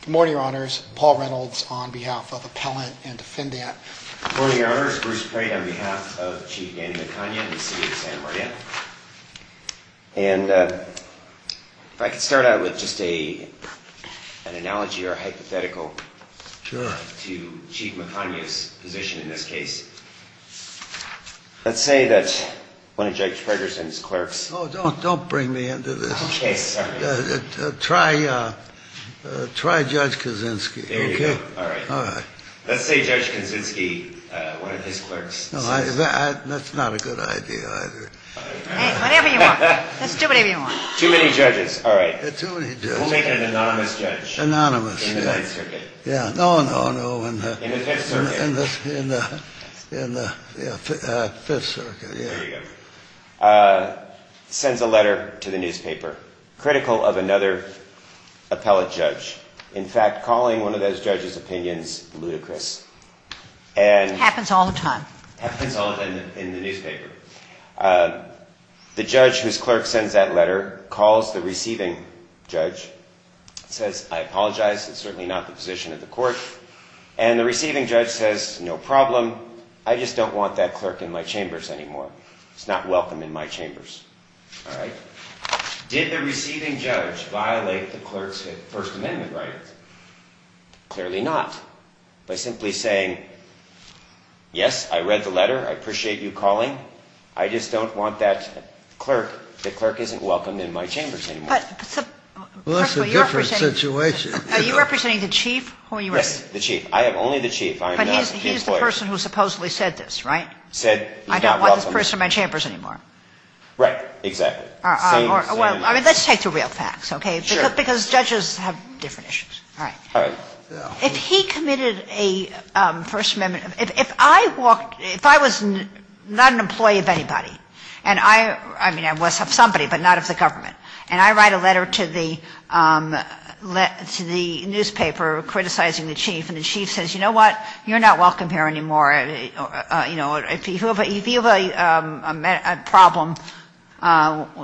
Good morning, Your Honors. Paul Reynolds on behalf of Appellant and Defendant. Good morning, Your Honors. Bruce Prate on behalf of Chief Danny Macagni of the City of San Mariano. And if I could start out with just an analogy or a hypothetical to Chief Macagni's position in this case. Let's say that one of Judge Fragers and his clerks... Oh, don't bring me into this. Okay, sorry. Try Judge Kaczynski, okay? There you go. All right. All right. Let's say Judge Kaczynski, one of his clerks... No, that's not a good idea either. Whatever you want. Let's do whatever you want. Too many judges. All right. Too many judges. We'll make an anonymous judge. Anonymous. In the Ninth Circuit. Yeah. No, no, no. In the Fifth Circuit. In the Fifth Circuit, yeah. There you go. ...sends a letter to the newspaper critical of another appellate judge. In fact, calling one of those judges' opinions ludicrous. Happens all the time. Happens all the time in the newspaper. The judge whose clerk sends that letter calls the receiving judge, says, I apologize, it's certainly not the position of the court. And the receiving judge says, no problem. I just don't want that clerk in my chambers anymore. It's not welcome in my chambers. All right? Did the receiving judge violate the clerk's First Amendment right? Clearly not. By simply saying, yes, I read the letter, I appreciate you calling, I just don't want that clerk, the clerk isn't welcome in my chambers anymore. Well, that's a different situation. Are you representing the chief? Yes, the chief. I am only the chief. But he's the person who supposedly said this, right? Said he's not welcome. I don't want the person in my chambers anymore. Right. Exactly. Well, let's take the real facts, okay? Because judges have different issues. All right. If he committed a First Amendment, if I walked, if I was not an employee of anybody, and I, I mean, I was of somebody, but not of the government, and I write a letter to the newspaper criticizing the chief, and the chief says, you know what, you're not welcome here anymore, you know, if you have a problem,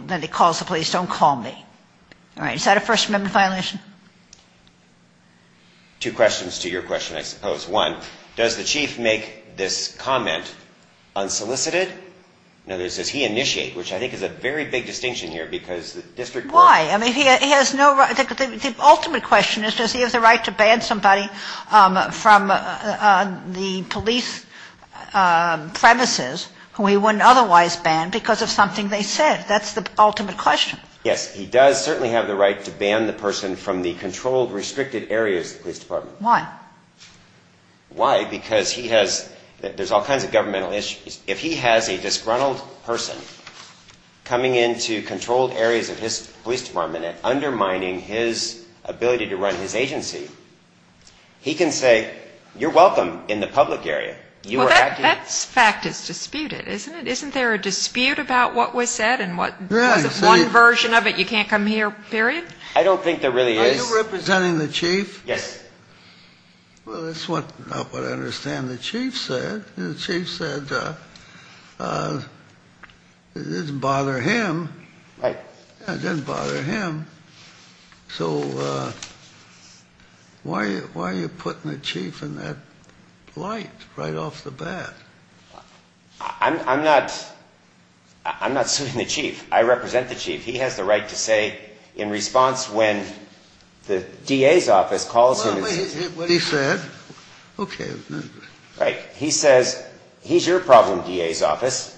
then he calls the police, don't call me. All right. Is that a First Amendment violation? Two questions to your question, I suppose. One, does the chief make this comment unsolicited? In other words, does he initiate, which I think is a very big distinction here, because the district court Why? I mean, he has no right, the ultimate question is, does he have the right to ban somebody from the police premises who he wouldn't otherwise ban because of something they said? That's the ultimate question. Yes, he does certainly have the right to ban the person from the controlled, restricted areas of the police department. Why? Why? Because he has, there's all kinds of governmental issues. If he has a disgruntled person coming into controlled areas of his police department and undermining his ability to run his agency, he can say, you're welcome in the public area. Well, that fact is disputed, isn't it? Isn't there a dispute about what was said and was it one version of it, you can't come here, period? I don't think there really is. Are you representing the chief? Yes. Well, that's not what I understand the chief said. The chief said it doesn't bother him. Right. Yeah, it doesn't bother him. So why are you putting the chief in that light right off the bat? I'm not suing the chief. I represent the chief. He has the right to say in response when the DA's office calls him. Well, what he said, okay. Right. He says, he's your problem, DA's office.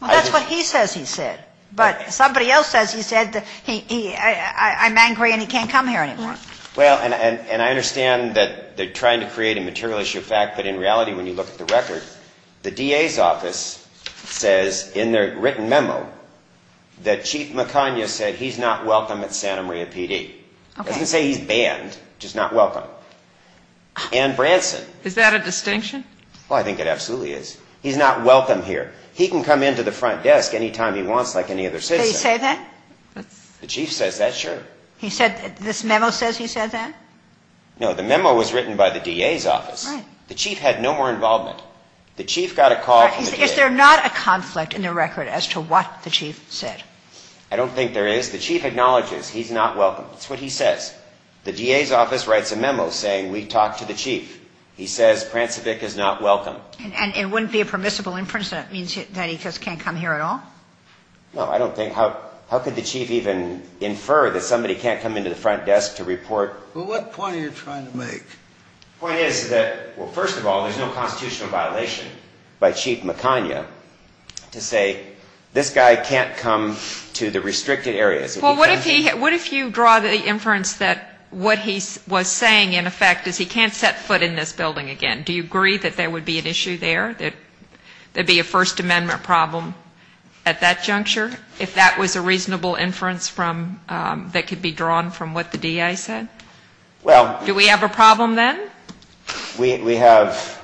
Well, that's what he says he said. But somebody else says he said, I'm angry and he can't come here anymore. Well, and I understand that they're trying to create a material issue of fact, but in reality when you look at the record, the DA's office says in their written memo that Chief McConyer said he's not welcome at Santa Maria PD. Okay. It doesn't say he's banned, just not welcome. And Branson. Is that a distinction? Well, I think it absolutely is. He's not welcome here. He can come into the front desk any time he wants like any other citizen. They say that? The chief says that, sure. He said this memo says he said that? No, the memo was written by the DA's office. The chief had no more involvement. The chief got a call from the DA. Is there not a conflict in the record as to what the chief said? I don't think there is. The chief acknowledges he's not welcome. That's what he says. The DA's office writes a memo saying we talked to the chief. He says Prancevic is not welcome. And it wouldn't be a permissible inference that it means that he just can't come here at all? No, I don't think. How could the chief even infer that somebody can't come into the front desk to report? Well, what point are you trying to make? The point is that, well, first of all, there's no constitutional violation by Chief McConyer to say this guy can't come to the restricted areas. Well, what if you draw the inference that what he was saying, in effect, is he can't set foot in this building again? Do you agree that there would be an issue there, that there would be a First Amendment problem at that juncture, if that was a reasonable inference that could be drawn from what the DA said? Do we have a problem then? We have.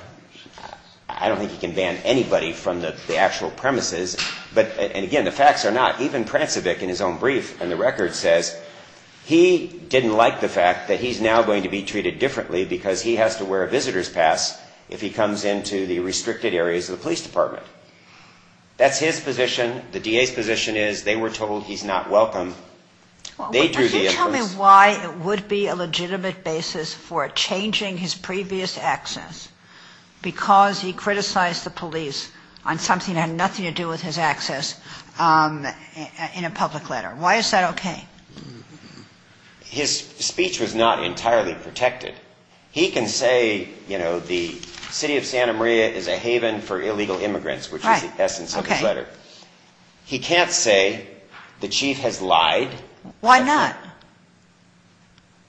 I don't think you can ban anybody from the actual premises. But, again, the facts are not. Even Prancevic in his own brief in the record says he didn't like the fact that he's now going to be treated differently because he has to wear a visitor's pass if he comes into the restricted areas of the police department. That's his position. The DA's position is they were told he's not welcome. They drew the inference. Well, can you tell me why it would be a legitimate basis for changing his previous access because he criticized the police on something that had nothing to do with his access in a public letter? Why is that okay? His speech was not entirely protected. He can say, you know, the city of Santa Maria is a haven for illegal immigrants, which is the essence of his letter. He can't say the chief has lied. Why not?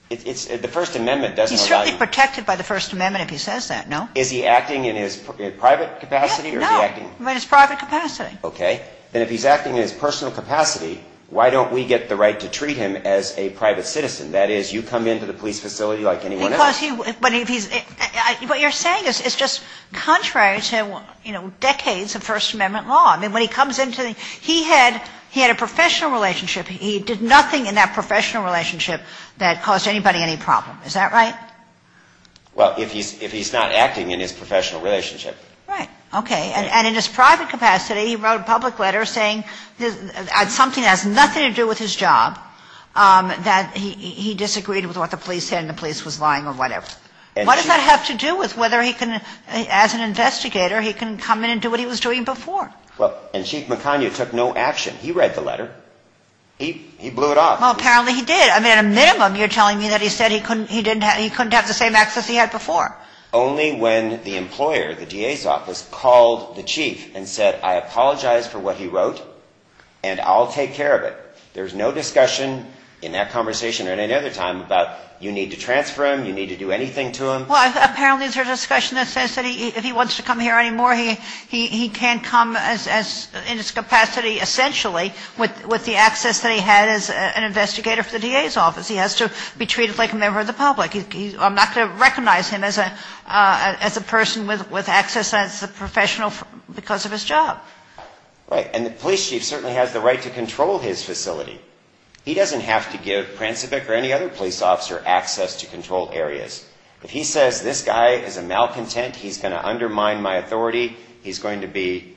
It's the First Amendment. He's certainly protected by the First Amendment if he says that, no? Is he acting in his private capacity? No, in his private capacity. Okay. Then if he's acting in his personal capacity, why don't we get the right to treat him as a private citizen? That is, you come into the police facility like anyone else. But if he's ñ what you're saying is just contrary to, you know, decades of First Amendment law. I mean, when he comes into the ñ he had a professional relationship. He did nothing in that professional relationship that caused anybody any problem. Is that right? Well, if he's not acting in his professional relationship. Right. Okay. And in his private capacity, he wrote a public letter saying something that has nothing to do with his job, that he disagreed with what the police said and the police was lying or whatever. What does that have to do with whether he can ñ as an investigator, he can come in and do what he was doing before? Well, and Chief McConaughey took no action. He read the letter. He blew it off. Well, apparently he did. I mean, at a minimum, you're telling me that he said he couldn't have the same access he had before. Only when the employer, the DA's office, called the chief and said, I apologize for what he wrote and I'll take care of it. There's no discussion in that conversation or at any other time about you need to transfer him, you need to do anything to him. Well, apparently there's a discussion that says that if he wants to come here anymore, he can come in his capacity essentially with the access that he had as an investigator for the DA's office. He has to be treated like a member of the public. I'm not going to recognize him as a person with access as a professional because of his job. Right. And the police chief certainly has the right to control his facility. He doesn't have to give Prancevic or any other police officer access to control areas. If he says this guy is a malcontent, he's going to undermine my authority. He's going to be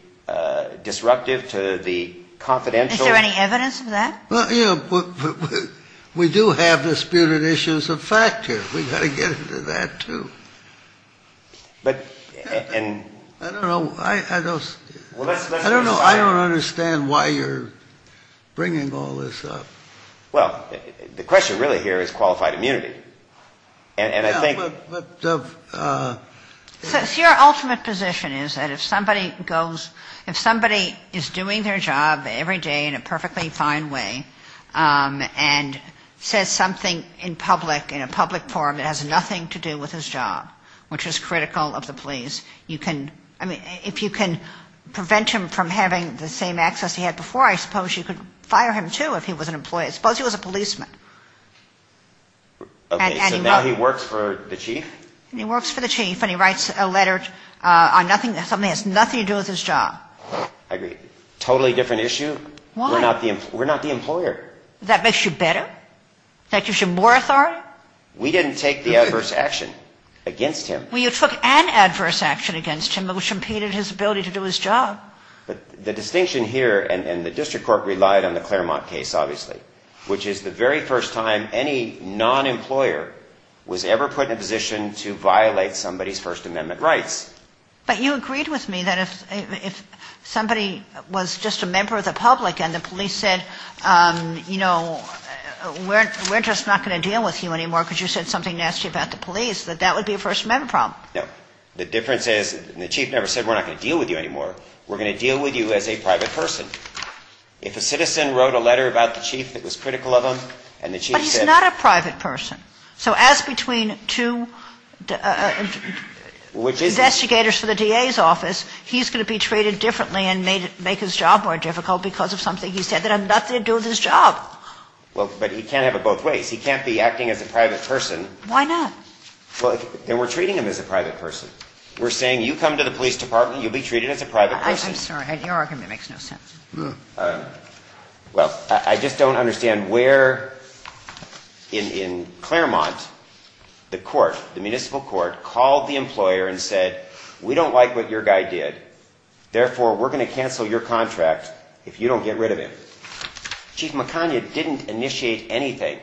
disruptive to the confidential. Is there any evidence of that? Well, you know, we do have disputed issues of fact here. We've got to get into that, too. I don't know. I don't know. I don't understand why you're bringing all this up. Well, the question really here is qualified immunity. So your ultimate position is that if somebody goes, if somebody is doing their job every day in a perfectly fine way and says something in public, in a public forum that has nothing to do with his job, which is critical of the police, you can, I mean, if you can prevent him from having the same access he had before, I suppose you could fire him, too, if he was an employee. I suppose he was a policeman. Okay, so now he works for the chief? He works for the chief, and he writes a letter on something that has nothing to do with his job. I agree. Totally different issue. Why? We're not the employer. That makes you better? That gives you more authority? We didn't take the adverse action against him. Well, you took an adverse action against him, which impeded his ability to do his job. But the distinction here, and the district court relied on the Claremont case, obviously, which is the very first time any non-employer was ever put in a position to violate somebody's First Amendment rights. But you agreed with me that if somebody was just a member of the public and the police said, you know, we're just not going to deal with you anymore because you said something nasty about the police, that that would be a First Amendment problem. No. The difference is the chief never said we're not going to deal with you anymore. We're going to deal with you as a private person. If a citizen wrote a letter about the chief that was critical of him, and the chief said — But he's not a private person. So as between two investigators for the DA's office, he's going to be treated differently and make his job more difficult because of something he said that had nothing to do with his job. Well, but he can't have it both ways. He can't be acting as a private person. Why not? Well, then we're treating him as a private person. We're saying, you come to the police department, you'll be treated as a private person. I'm sorry. Your argument makes no sense. Well, I just don't understand where in Claremont the court, the municipal court, called the employer and said, we don't like what your guy did. Therefore, we're going to cancel your contract if you don't get rid of him. Chief McConaughey didn't initiate anything.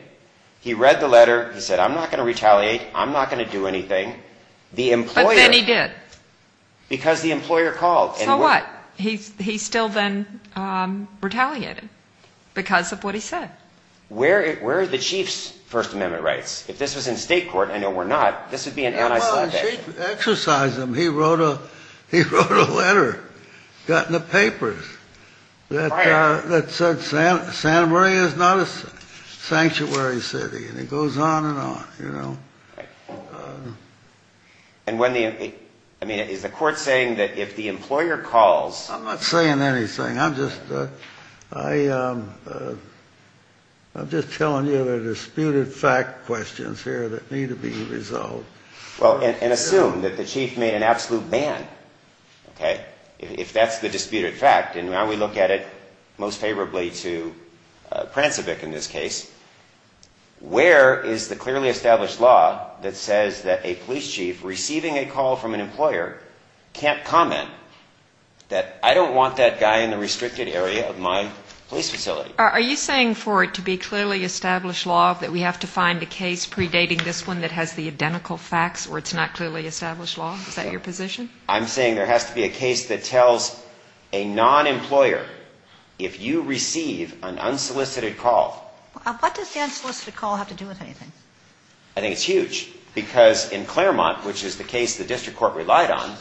He read the letter. He said, I'm not going to retaliate. I'm not going to do anything. But then he did. Because the employer called. So what? He still then retaliated because of what he said. Where are the chief's First Amendment rights? If this was in state court, I know we're not, this would be an anti-slave action. Well, the chief exercised them. He wrote a letter, got in the papers, that said Santa Maria is not a sanctuary city. And it goes on and on, you know. And when the, I mean, is the court saying that if the employer calls. I'm not saying anything. I'm just, I, I'm just telling you there are disputed fact questions here that need to be resolved. Well, and assume that the chief made an absolute ban. Okay. If that's the disputed fact, and now we look at it most favorably to Prancevic in this case. Where is the clearly established law that says that a police chief receiving a call from an employer can't comment that I don't want that guy in the restricted area of my police facility? Are you saying for it to be clearly established law that we have to find a case predating this one that has the identical facts or it's not clearly established law? Is that your position? I'm saying there has to be a case that tells a non-employer, if you receive an unsolicited call. What does the unsolicited call have to do with anything? I think it's huge. Because in Claremont, which is the case the district court relied on,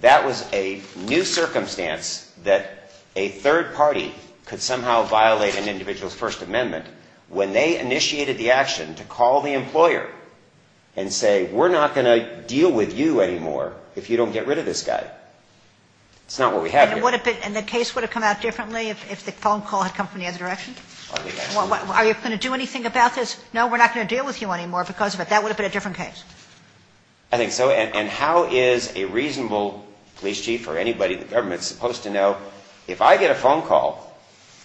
that was a new circumstance that a third party could somehow violate an individual's First Amendment when they initiated the action to call the employer and say, we're not going to deal with you anymore if you don't get rid of this guy. It's not what we have here. And the case would have come out differently if the phone call had come from the other direction? I think absolutely. Are you going to do anything about this? No, we're not going to deal with you anymore because of it. That would have been a different case. I think so. And how is a reasonable police chief or anybody in the government supposed to know, if I get a phone call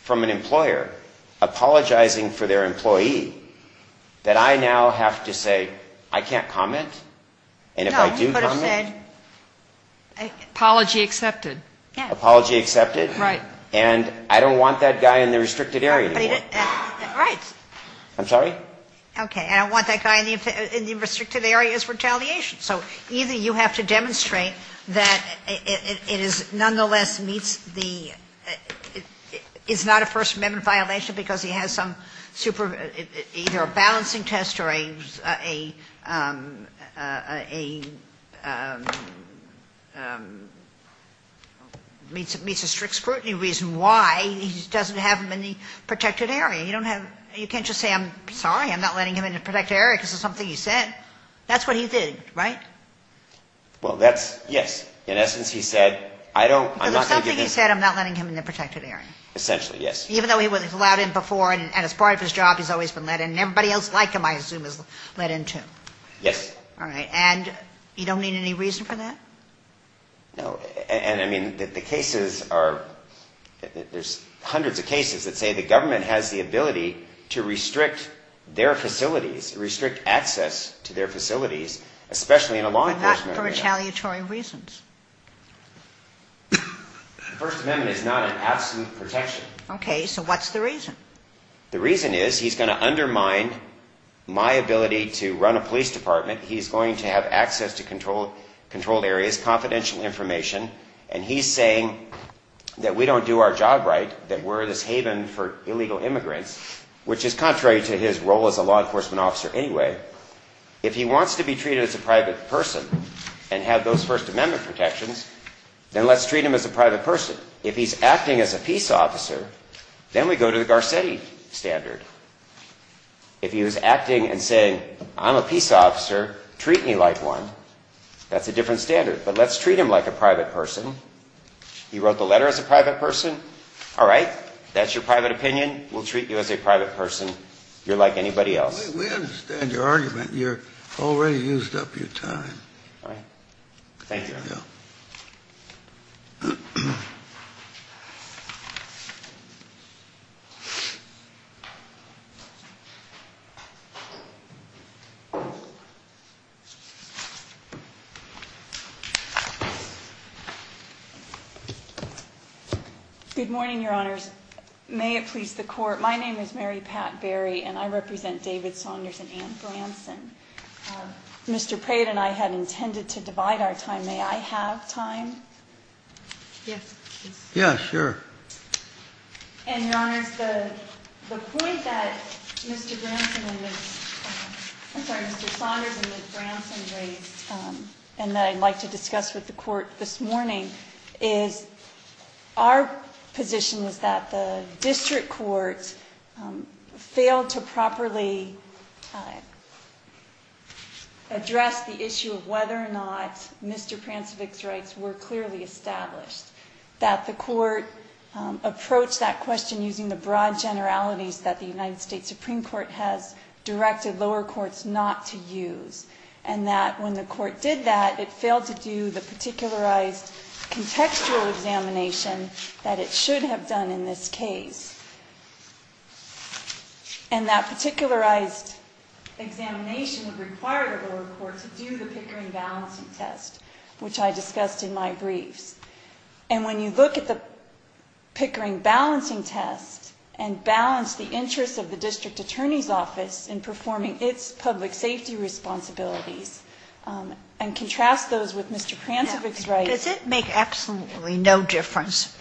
from an employer apologizing for their employee, that I now have to say, I can't comment? And if I do comment? No, you could have said, apology accepted. Apology accepted? Right. And I don't want that guy in the restricted area anymore. Right. I'm sorry? Okay. And I don't want that guy in the restricted area's retaliation. So either you have to demonstrate that it is nonetheless meets the – it's not a First Amendment violation because he has some super – either a balancing test or a – meets a strict scrutiny reason why he doesn't have him in the protected area. You don't have – you can't just say, I'm sorry, I'm not letting him in the protected area because of something you said. That's what he did, right? Well, that's – yes. In essence, he said, I don't – I'm not going to give him – Because of something you said, I'm not letting him in the protected area. Essentially, yes. Even though he was allowed in before and as part of his job, he's always been let in. And everybody else like him, I assume, is let in, too. Yes. All right. And you don't need any reason for that? No. And, I mean, the cases are – there's hundreds of cases that say the government has the ability to restrict their facilities, restrict access to their facilities, especially in a law enforcement area. But not for retaliatory reasons. The First Amendment is not an absolute protection. Okay. So what's the reason? The reason is he's going to undermine my ability to run a police department. He's going to have access to controlled areas, confidential information. And he's saying that we don't do our job right, that we're this haven for illegal immigrants, which is contrary to his role as a law enforcement officer anyway. If he wants to be treated as a private person and have those First Amendment protections, then let's treat him as a private person. If he's acting as a peace officer, then we go to the Garcetti standard. If he was acting and saying, I'm a peace officer, treat me like one, that's a different standard. But let's treat him like a private person. You wrote the letter as a private person? All right. That's your private opinion. We'll treat you as a private person. You're like anybody else. We understand your argument. You've already used up your time. All right. Thank you. Thank you. Good morning, Your Honors. May it please the Court, my name is Mary Pat Berry and I represent David Saunders and Anne Branson. Mr. Prate and I had intended to divide our time. May I have time? Yes, please. Yeah, sure. And, Your Honors, the point that Mr. Branson and Ms. I'm sorry, Mr. Saunders and Ms. Branson raised, and that I'd like to discuss with the Court this morning, is our position was that the district courts failed to properly address the issue of whether or not Mr. Prancevich's rights were clearly established. That the Court approached that question using the broad generalities that the United States Supreme Court has directed lower courts not to use. And that when the Court did that, it failed to do the particularized contextual examination that it should have done in this case. And that particularized examination would require the lower court to do the Pickering balancing test, which I discussed in my briefs. And when you look at the Pickering balancing test and balance the interests of the district attorney's office in performing its public safety responsibilities, and contrast those with Mr. Prancevich's rights. Does it make absolutely no difference?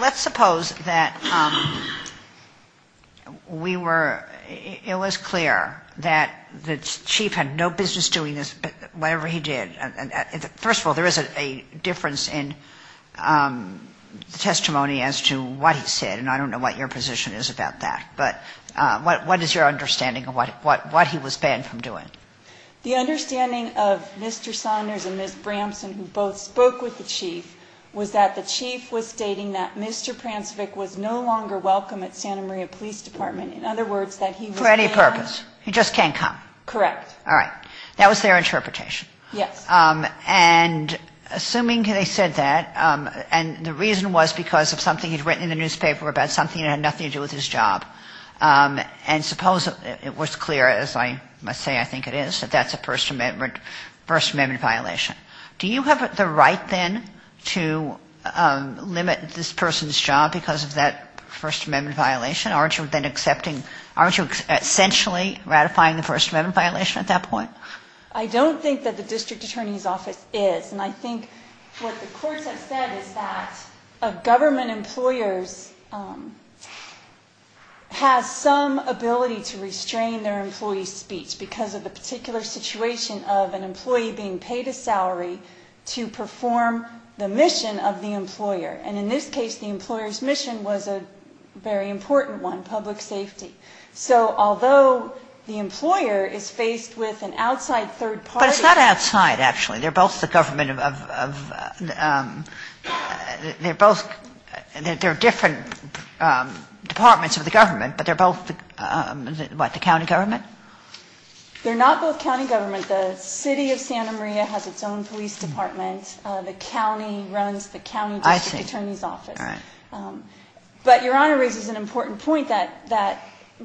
Let's suppose that we were, it was clear that the Chief had no business doing whatever he did. First of all, there is a difference in testimony as to what he said, and I don't know what your position is about that. But what is your understanding of what he was banned from doing? The understanding of Mr. Saunders and Ms. Bramson, who both spoke with the Chief, was that the Chief was stating that Mr. Prancevich was no longer welcome at Santa Maria Police Department. In other words, that he was banned. For any purpose. He just can't come. Correct. All right. That was their interpretation. Yes. And assuming they said that, and the reason was because of something he'd written in the newspaper about something that had nothing to do with his job. And suppose it was clear, as I must say I think it is, that that's a First Amendment violation. Do you have the right then to limit this person's job because of that First Amendment violation? Aren't you then accepting, aren't you essentially ratifying the First Amendment violation at that point? I don't think that the District Attorney's Office is. And I think what the courts have said is that a government employer has some ability to restrain their employee's speech because of the particular situation of an employee being paid a salary to perform the mission of the employer. And in this case, the employer's mission was a very important one, public safety. So although the employer is faced with an outside third party. But it's not outside, actually. They're both the government of, they're both, they're different departments of the government, but they're both, what, the county government? They're not both county government. The City of Santa Maria has its own police department. The county runs the county district attorney's office. I see. All right. But Your Honor raises an important point that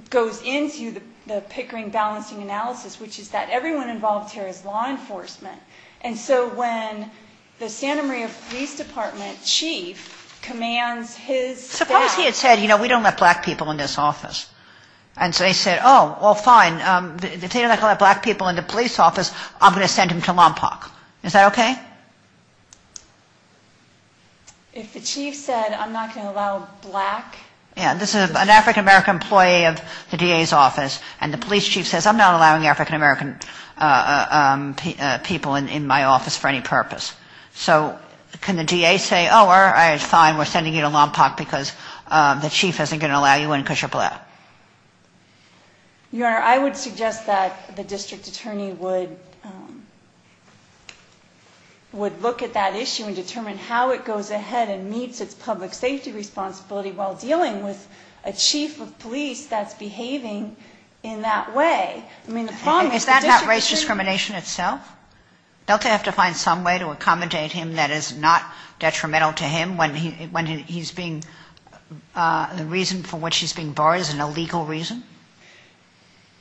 goes into the Pickering balancing analysis, which is that everyone involved here is law enforcement. And so when the Santa Maria Police Department chief commands his staff. Suppose he had said, you know, we don't let black people in this office. And so they said, oh, well, fine. If they don't let black people in the police office, I'm going to send them to Lompoc. Is that okay? If the chief said I'm not going to allow black. This is an African-American employee of the DA's office. And the police chief says I'm not allowing African-American people in my office for any purpose. So can the DA say, oh, all right, fine, we're sending you to Lompoc because the chief isn't going to allow you in because you're black? Your Honor, I would suggest that the district attorney would look at that issue and determine how it goes ahead and meets its public safety responsibility while dealing with a chief of police that's behaving in that way. I mean, the problem is that. Is that not race discrimination itself? Don't they have to find some way to accommodate him that is not detrimental to him when he's being. The reason for what she's being barred is an illegal reason.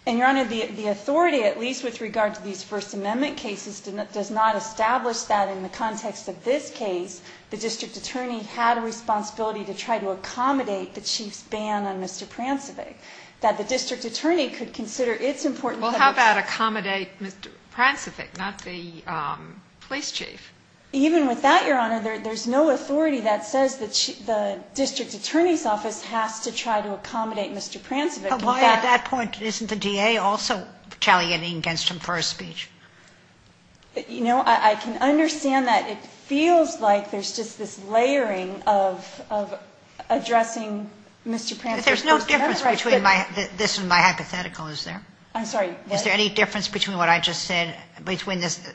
And, Your Honor, the authority, at least with regard to these First Amendment cases, does not establish that in the context of this case, the district attorney had a responsibility to try to accommodate the chief's ban on Mr. Prancevich. That the district attorney could consider its important. Well, how about accommodate Mr. Prancevich, not the police chief? Even with that, Your Honor, there's no authority that says the district attorney's office has to try to accommodate Mr. Prancevich. But why at that point isn't the DA also retaliating against him for his speech? You know, I can understand that. It feels like there's just this layering of addressing Mr. Prancevich. But there's no difference between this and my hypothetical, is there? I'm sorry? Is there any difference between what I just said, between this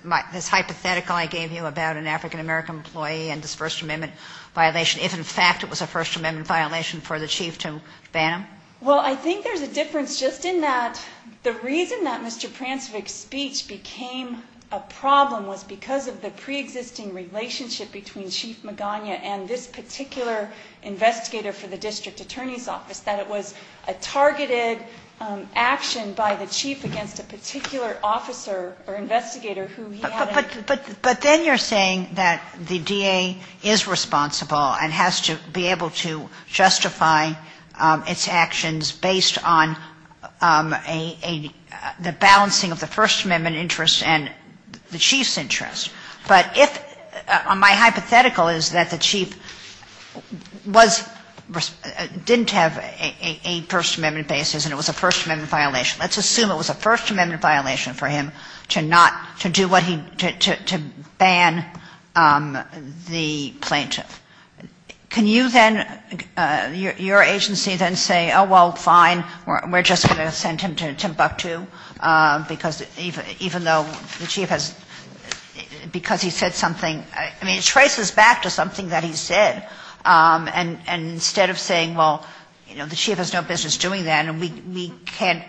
hypothetical I gave you about an African-American employee and this First Amendment violation, if in fact it was a First Amendment violation for the chief to ban him? Well, I think there's a difference just in that the reason that Mr. Prancevich's speech became a problem was because of the preexisting relationship between Chief Magana and this particular investigator for the district attorney's office, that it was a targeted action by the chief against a particular officer or investigator who he had a ---- But then you're saying that the DA is responsible and has to be able to justify its actions based on the balancing of the First Amendment interest and the chief's interest. But if my hypothetical is that the chief was ---- didn't have a First Amendment basis and it was a First Amendment violation, let's assume it was a First Amendment violation for him to not ---- to do what he ---- to ban the plaintiff. Can you then ---- your agency then say, oh, well, fine, we're just going to send him to Timbuktu, because even though the chief has ---- because he said something ---- I mean, it traces back to something that he said. And instead of saying, well, you know, the chief has no business doing that and we can't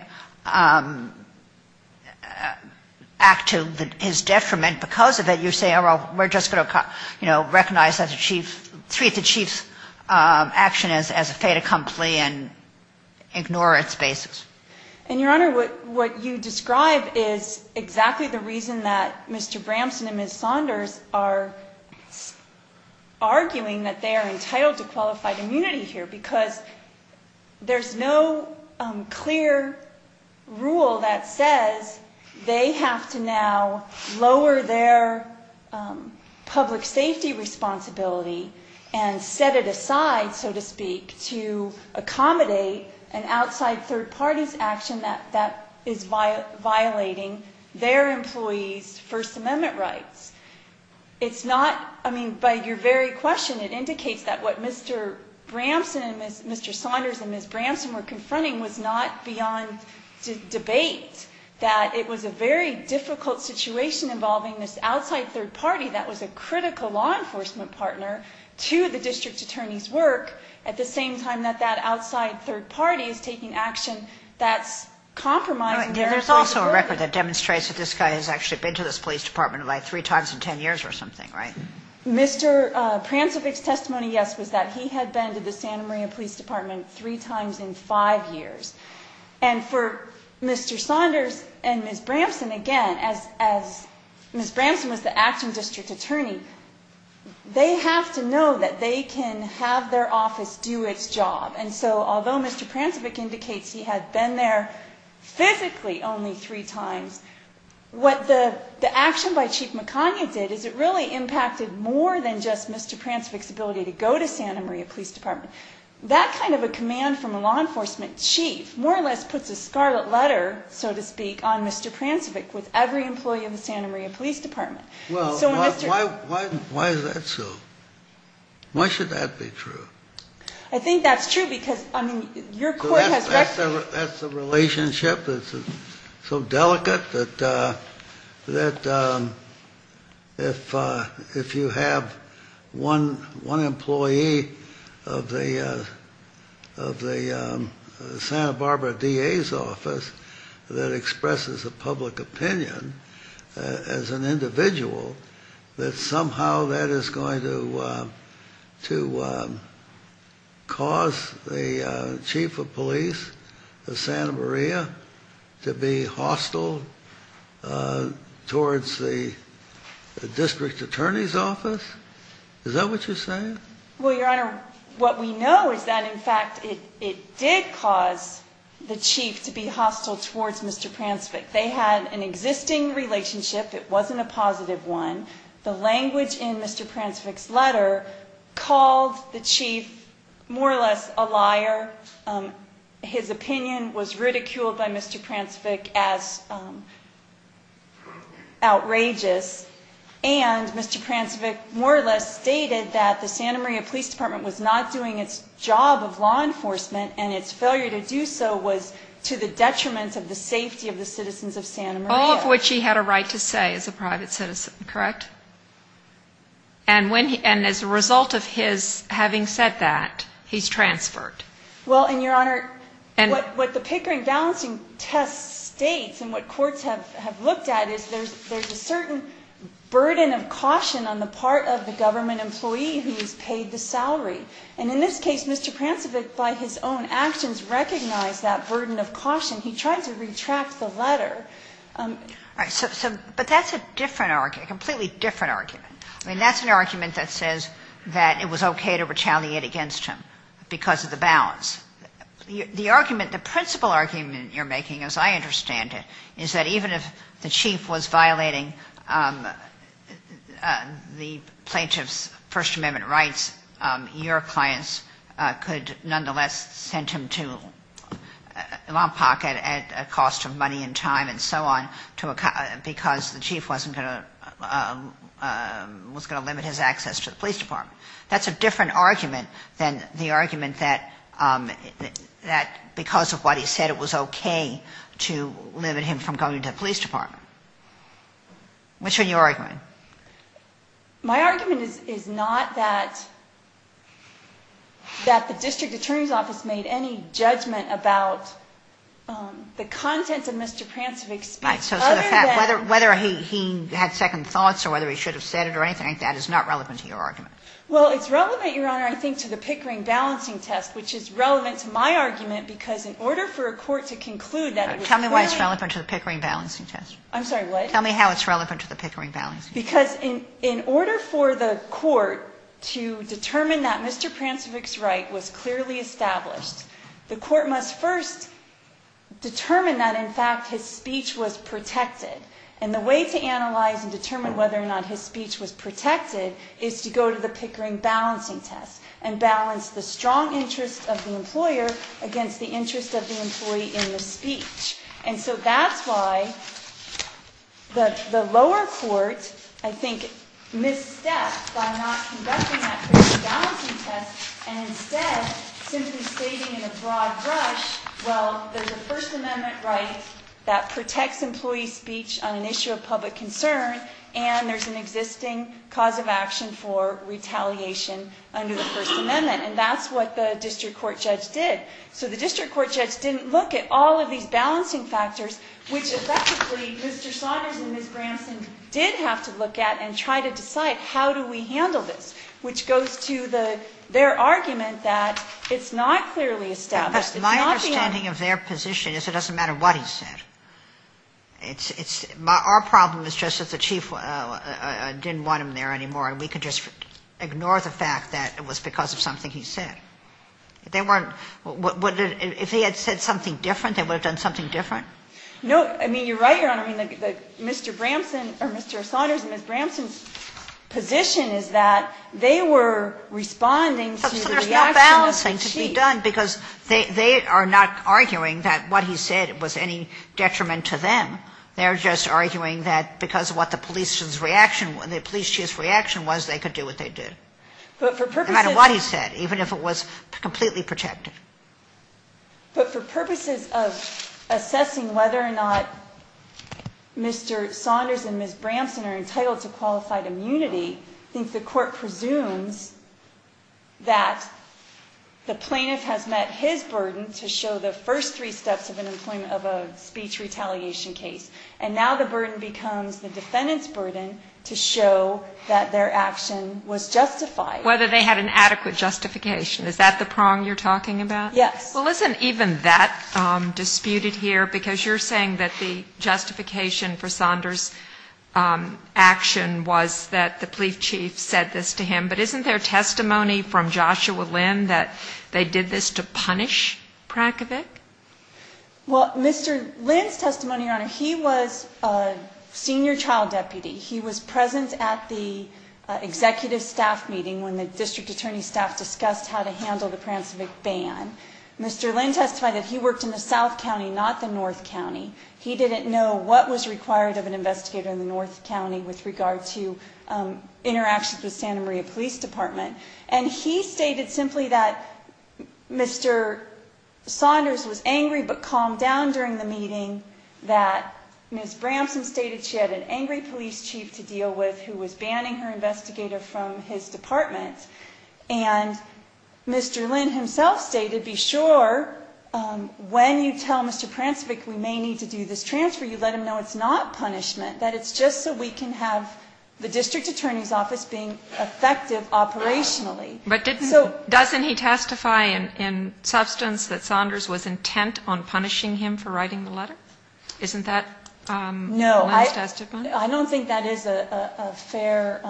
act to his detriment because of it, you say, oh, well, we're just going to, you know, recognize that the chief ---- treat the chief's action as a fait accompli and ignore its basis. And, Your Honor, what you describe is exactly the reason that Mr. Bramson and Ms. Saunders are arguing that they are entitled to qualified immunity here, because there's no clear rule that says they have to now lower their public safety responsibility and set it aside, so to speak, to accommodate an outside third party's action that is violating their employees' First Amendment rights. It's not ---- I mean, by your very question, it indicates that what Mr. Bramson and Ms. ---- Mr. Saunders and Ms. Bramson were confronting was not beyond debate, that it was a very difficult situation involving this outside third party that was a critical law enforcement partner to the district attorney's work, at the same time that that outside third party is taking action that's compromising their ---- There's also a record that demonstrates that this guy has actually been to this police department about three times in 10 years or something, right? Mr. Prancevich's testimony, yes, was that he had been to the Santa Maria Police Department three times in five years. And for Mr. Saunders and Ms. Bramson, again, as Ms. Bramson was the action district attorney, they have to know that they can have their office do its job. And so, although Mr. Prancevich indicates he had been there physically only three times, what the action by Chief McConaughey did is it really impacted more than just Mr. Prancevich's ability to go to Santa Maria Police Department. That kind of a command from a law enforcement chief more or less puts a scarlet letter, so to speak, on Mr. Prancevich with every employee of the Santa Maria Police Department. Well, why is that so? Why should that be true? I think that's true because, I mean, your court has recognized... That's a relationship that's so delicate that if you have one employee of the Santa Barbara DA's office that expresses a public opinion as an individual, that somehow that is going to cause the chief of police of Santa Maria to be hostile towards the district attorney's office. Is that what you're saying? Well, Your Honor, what we know is that, in fact, it did cause the chief to be hostile towards Mr. Prancevich. They had an existing relationship. It wasn't a positive one. The language in Mr. Prancevich's letter called the chief more or less a liar. His opinion was ridiculed by Mr. Prancevich as outrageous. And Mr. Prancevich more or less stated that the Santa Maria Police Department was not doing its job of law enforcement and its failure to do so was to the detriment of the safety of the citizens of Santa Maria. All of which he had a right to say as a private citizen, correct? And as a result of his having said that, he's transferred. Well, and Your Honor, what the Pickering balancing test states and what courts have looked at is there's a certain burden of caution on the part of the government employee who's paid the salary. And in this case, Mr. Prancevich, by his own actions, recognized that burden of caution. He tried to retract the letter. But that's a different argument, a completely different argument. I mean, that's an argument that says that it was okay to retaliate against him because of the balance. The argument, the principal argument you're making, as I understand it, is that even if the chief was violating the plaintiff's First Amendment rights, your clients could nonetheless send him to a law pocket at a cost of money and time and so on because the chief was going to limit his access to the police department. That's a different argument than the argument that because of what he said, it was okay to limit him from going to the police department. Which one are you arguing? My argument is not that the district attorney's office made any judgment about the contents of Mr. Prancevich's speech. Right. So the fact whether he had second thoughts or whether he should have said it or anything like that is not relevant to your argument. Well, it's relevant, Your Honor, I think, to the Pickering balancing test, which is relevant to my argument because in order for a court to conclude that it was clearly Tell me why it's relevant to the Pickering balancing test. I'm sorry, what? Tell me how it's relevant to the Pickering balancing test. Because in order for the court to determine that Mr. Prancevich's right was clearly established, the court must first determine that, in fact, his speech was protected. And the way to analyze and determine whether or not his speech was protected is to go to the Pickering balancing test and balance the strong interest of the employer against the interest of the employee in the speech. And so that's why the lower court, I think, misstepped by not conducting that Pickering balancing test and instead simply stating in a broad brush, well, there's a First Amendment right that protects employee speech on an issue of public concern and there's an existing cause of action for retaliation under the First Amendment. And that's what the district court judge did. So the district court judge didn't look at all of these balancing factors, which effectively Mr. Saunders and Ms. Branson did have to look at and try to decide how do we handle this, which goes to their argument that it's not clearly established. It's not the only one. Sotomayor My understanding of their position is it doesn't matter what he said. Our problem is just that the Chief didn't want him there anymore and we could just ignore the fact that it was because of something he said. If they weren't, if he had said something different, they would have done something different? No, I mean, you're right, Your Honor. I mean, Mr. Branson or Mr. Saunders and Ms. Branson's position is that they were responding to the reaction of the Chief. But there's no balancing to be done because they are not arguing that what he said was any detriment to them. They're just arguing that because of what the police's reaction, the police chief's reaction was, they could do what they did. But for purposes of But no matter what he said, even if it was completely protected. But for purposes of assessing whether or not Mr. Saunders and Ms. Branson are entitled to qualified immunity, I think the Court presumes that the plaintiff has met his burden to show the first three steps of an employment of a speech retaliation case. And now the burden becomes the defendant's burden to show that their action was justified. Whether they had an adequate justification. Is that the prong you're talking about? Yes. Well, isn't even that disputed here? Because you're saying that the justification for Saunders' action was that the police chief said this to him. But isn't there testimony from Joshua Lynn that they did this to punish Prakovic? Well, Mr. Lynn's testimony, Your Honor, he was a senior child deputy. He was present at the executive staff meeting when the district attorney staff discussed how to handle the Prakovic ban. Mr. Lynn testified that he worked in the South County, not the North County. He didn't know what was required of an investigator in the North County with regard to interactions with Santa Maria Police Department. And he stated simply that Mr. Saunders was angry but calmed down during the meeting. That Ms. Bramson stated she had an angry police chief to deal with who was banning her investigator from his department. And Mr. Lynn himself stated, be sure when you tell Mr. Prakovic we may need to do this transfer, you let him know it's not punishment. That it's just so we can have the district attorney's office being effective operationally. But doesn't he testify in substance that Saunders was intent on punishing him for writing the letter? Isn't that Lynn's testimony? No, I don't think that is a fair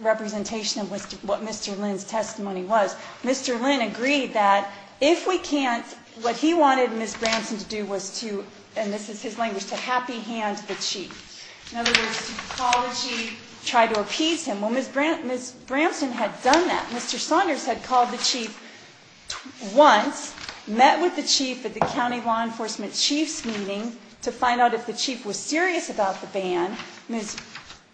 representation of what Mr. Lynn's testimony was. Mr. Lynn agreed that if we can't, what he wanted Ms. Bramson to do was to, and this is his language, to happy hand the chief. In other words, to call the chief, try to appease him. Well, Ms. Bramson had done that. Mr. Saunders had called the chief once, met with the chief at the county law enforcement chief's meeting to find out if the chief was serious about the ban. Ms.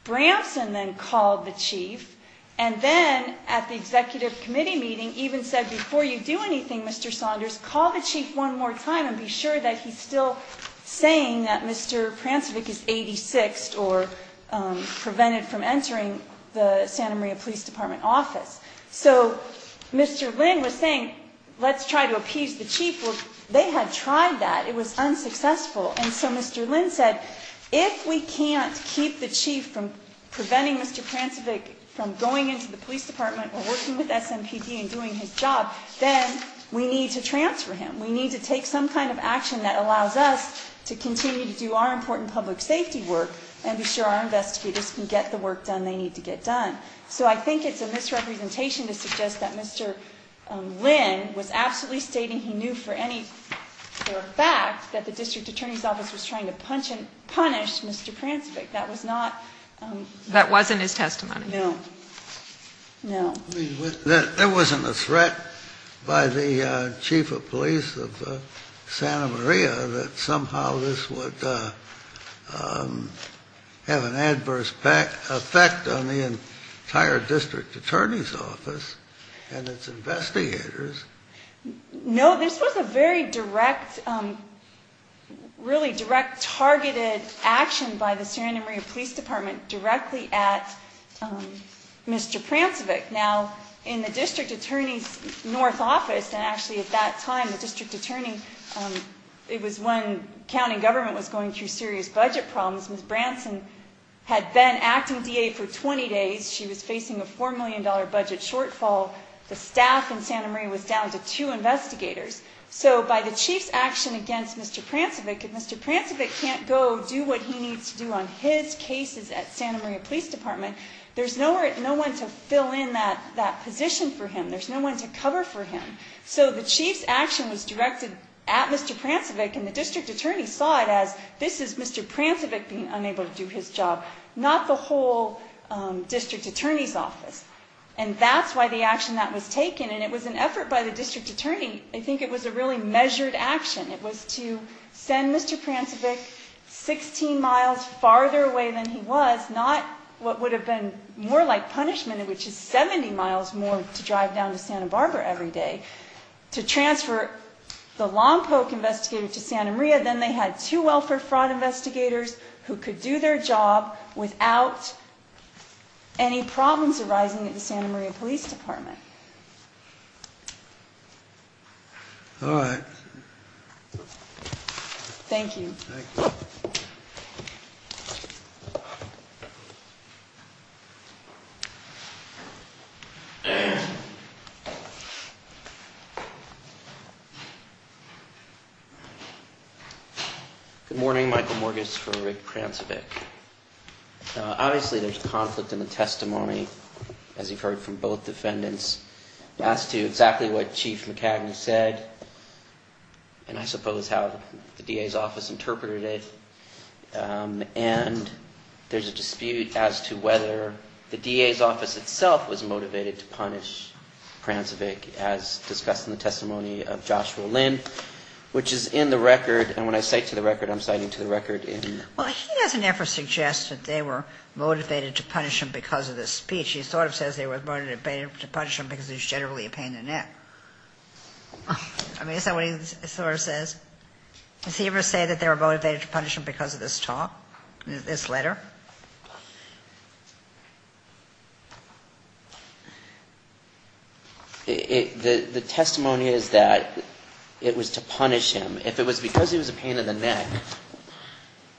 Bramson then called the chief, and then at the executive committee meeting even said before you do anything, Mr. Saunders, call the chief one more time and be sure that he's still saying that Mr. Prakovic is 86 or prevented from entering the Santa Maria Police Department office. So Mr. Lynn was saying, let's try to appease the chief. Well, they had tried that. It was unsuccessful. And so Mr. Lynn said, if we can't keep the chief from preventing Mr. Prakovic from going into the police department or working with SMPD and doing his job, then we need to transfer him. We need to take some kind of action that allows us to continue to do our important public safety work and be sure our investigators can get the work done they need to get done. So I think it's a misrepresentation to suggest that Mr. Lynn was absolutely stating he knew for a fact that the district attorney's office was trying to punish Mr. Pransvich. That was not... That wasn't his testimony. No. No. There wasn't a threat by the chief of police of Santa Maria that somehow this would have an adverse effect on the entire district attorney's office and its investigators. No, this was a very direct, really direct targeted action by the Santa Maria Police Department directly at Mr. Pransvich. Now, in the district attorney's north office, and actually at that time the district attorney, it was when county government was going through serious budget problems, Ms. Branson had been acting DA for 20 days. She was facing a $4 million budget shortfall. The staff in Santa Maria was down to two investigators. So by the chief's action against Mr. Pransvich, if Mr. Pransvich can't go do what he needs to do on his cases at Santa Maria Police Department, there's no one to fill in that position for him. There's no one to cover for him. So the chief's action was directed at Mr. Pransvich, and the district attorney saw it as this is Mr. Pransvich being unable to do his job, not the whole district attorney's office. And that's why the action that was taken, and it was an effort by the district attorney. I think it was a really measured action. It was to send Mr. Pransvich 16 miles farther away than he was, not what would have been more like punishment, which is 70 miles more to drive down to Santa Barbara every day, to transfer the Lompoc investigator to Santa Maria. Then they had two welfare fraud investigators who could do their job without any problems arising at the Santa Maria Police Department. All right. Thank you. Thank you. Good morning. Michael Morgus for Rick Pransvich. Obviously, there's conflict in the testimony, as you've heard from both defendants, as to exactly what Chief McCagney said, and I suppose how the DA's office interpreted it. And there's a dispute as to whether the DA's office itself was motivated to punish Pransvich, as discussed in the testimony of Joshua Lynn, which is in the record. And when I cite to the record, I'm citing to the record in the record. Well, he doesn't ever suggest that they were motivated to punish him because of the speech. He sort of says they were motivated to punish him because he was generally a pain in the neck. I mean, is that what he sort of says? Does he ever say that they were motivated to punish him because of this talk, this letter? The testimony is that it was to punish him. If it was because he was a pain in the neck.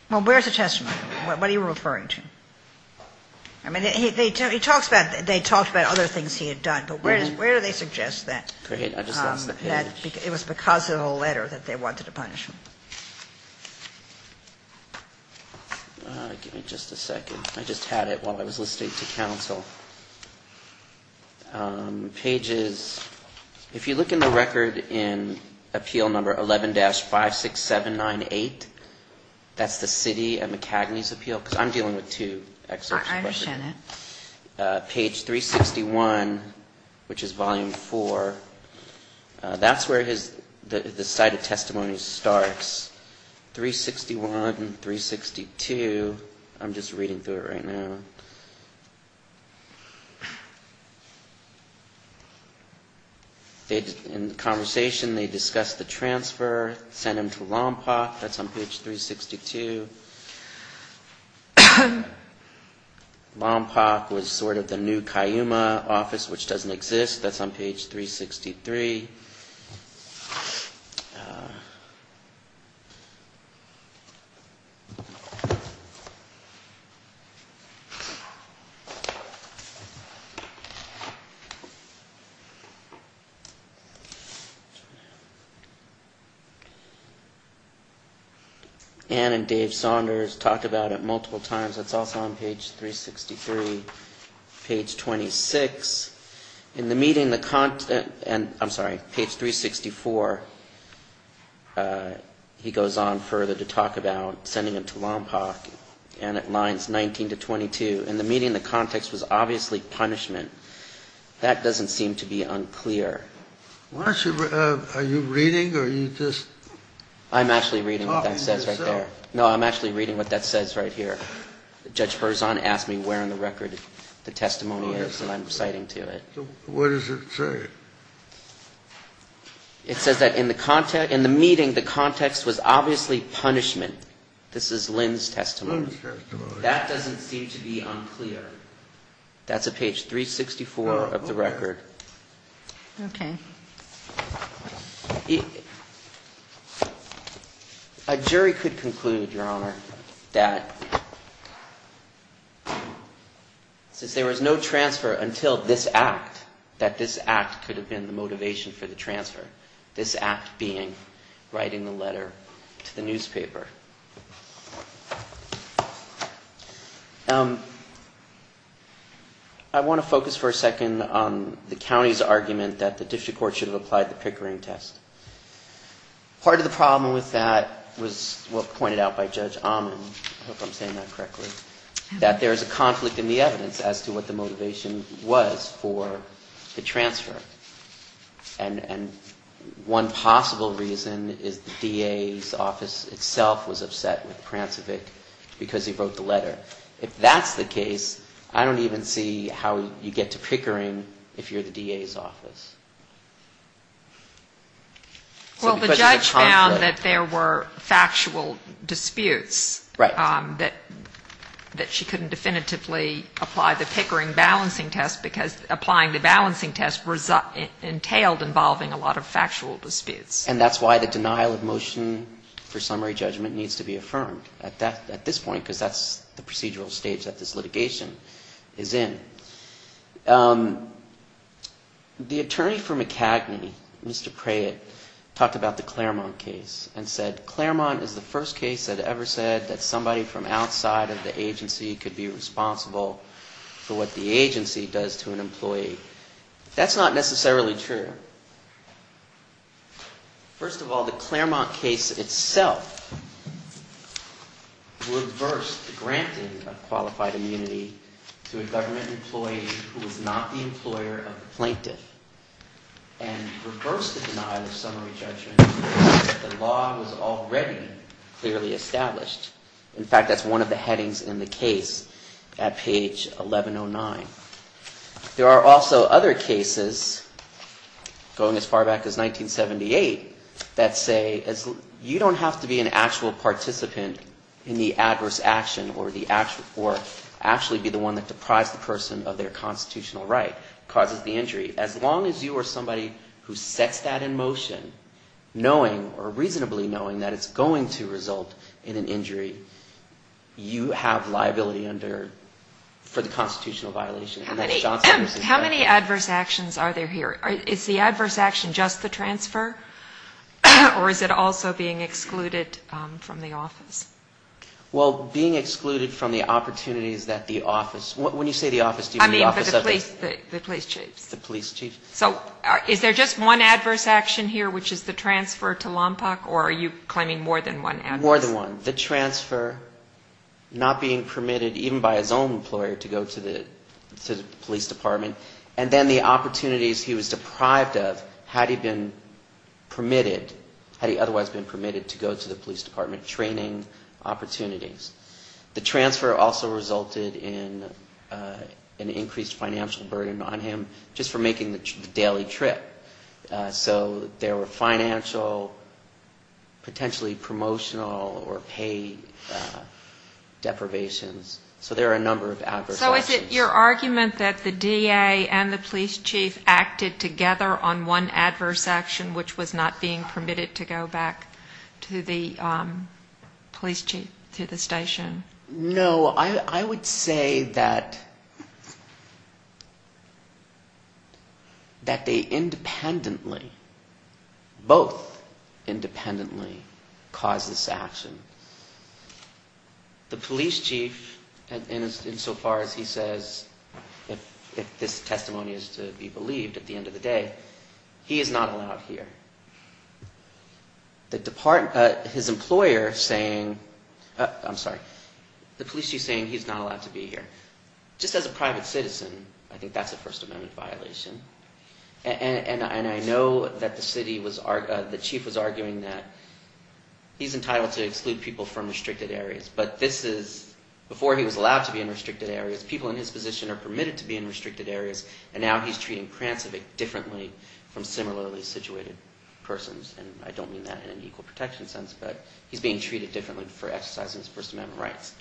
Well, where's the testimony? What are you referring to? I mean, he talks about they talked about other things he had done, but where do they suggest that? It was because of the letter that they wanted to punish him. Give me just a second. I just had it while I was listening to counsel. Pages, if you look in the record in appeal number 11-56798, that's the city of McCagney's appeal, because I'm dealing with two excerpts. I understand that. Page 361, which is volume four, that's where the cited testimony starts. 361, 362. I'm just reading through it right now. In the conversation, they discuss the transfer, send him to Lompoc. That's on page 362. Lompoc was sort of the new Cayuma office, which doesn't exist. That's on page 363. Let's see. Ann and Dave Saunders talk about it multiple times. It's also on page 363. Page 26. In the meeting, the context, and I'm sorry, page 364, he goes on further to talk about sending him to Lompoc, and it lines 19-22. In the meeting, the context was obviously punishment. That doesn't seem to be unclear. Are you reading or are you just talking? I'm actually reading what that says right there. No, I'm actually reading what that says right here. Judge Berzon asked me where in the record the testimony is, and I'm citing to it. What does it say? It says that in the meeting, the context was obviously punishment. This is Lynn's testimony. Lynn's testimony. That doesn't seem to be unclear. That's on page 364 of the record. Okay. A jury could conclude, Your Honor, that since there was no transfer until this act, that this act could have been the motivation for the transfer, this act being writing the letter to the newspaper. I want to focus for a second on the county's argument that the district court should have applied the Pickering test. Part of the problem with that was what was pointed out by Judge Ahman, I hope I'm saying that correctly, that there is a conflict in the evidence as to what the motivation was for the transfer. And one possible reason is the DA's office itself was upset with Prancevic because he wrote the letter. If that's the case, I don't even see how you get to Pickering if you're the DA's office. Well, the judge found that there were factual disputes that she couldn't definitively apply the Pickering balancing test, because applying the balancing test entailed involving a lot of factual disputes. And that's why the denial of motion for summary judgment needs to be affirmed at this point, because that's the procedural stage that this litigation is in. The attorney for McCagney, Mr. Prayett, talked about the Claremont case and said Claremont is the first case that ever said that somebody from outside of the agency could be responsible for what the agency does to an employee. That's not necessarily true. First of all, the Claremont case itself reversed the granting of qualified immunity to a government employee who was not the employer of the plaintiff and reversed the denial of summary judgment that the law was already clearly established. In fact, that's one of the headings in the case at page 1109. There are also other cases going as far back as 1978 that say you don't have to be an actual participant in the adverse action or actually be the one that deprives the person of their constitutional right, causes the injury. As long as you are somebody who sets that in motion, knowing or reasonably knowing that it's going to result in an injury, you have liability for the constitutional violation. How many adverse actions are there here? Is the adverse action just the transfer? Or is it also being excluded from the office? Well, being excluded from the opportunities that the office, when you say the office, do you mean the office of the... I mean the police chiefs. The police chiefs. So is there just one adverse action here, which is the transfer to Lompoc, or are you claiming more than one adverse? The transfer, not being permitted even by his own employer to go to the police department. And then the opportunities he was deprived of had he been permitted, had he otherwise been permitted to go to the police department, training opportunities. The transfer also resulted in an increased financial burden on him just for making the daily trip. So there were financial, potentially promotional or pay deprivations. So there are a number of adverse actions. So is it your argument that the DA and the police chief acted together on one adverse action, which was not being permitted to go back to the police chief, to the station? No. I would say that they independently, as opposed to asking for permission to go back to the police department. They independently, both independently caused this action. The police chief, insofar as he says if this testimony is to be believed at the end of the day, he is not allowed here. The department, his employer saying, I'm sorry, the police chief saying he's not allowed to be here. Just as a private citizen, I think that's a First Amendment violation. And I know that the chief was arguing that he's entitled to exclude people from restricted areas. But this is, before he was allowed to be in restricted areas, people in his position are permitted to be in restricted areas. And now he's treating trans-civic differently from similarly situated persons. And I don't mean that in an equal protection sense, but he's being treated differently for exercising his First Amendment rights.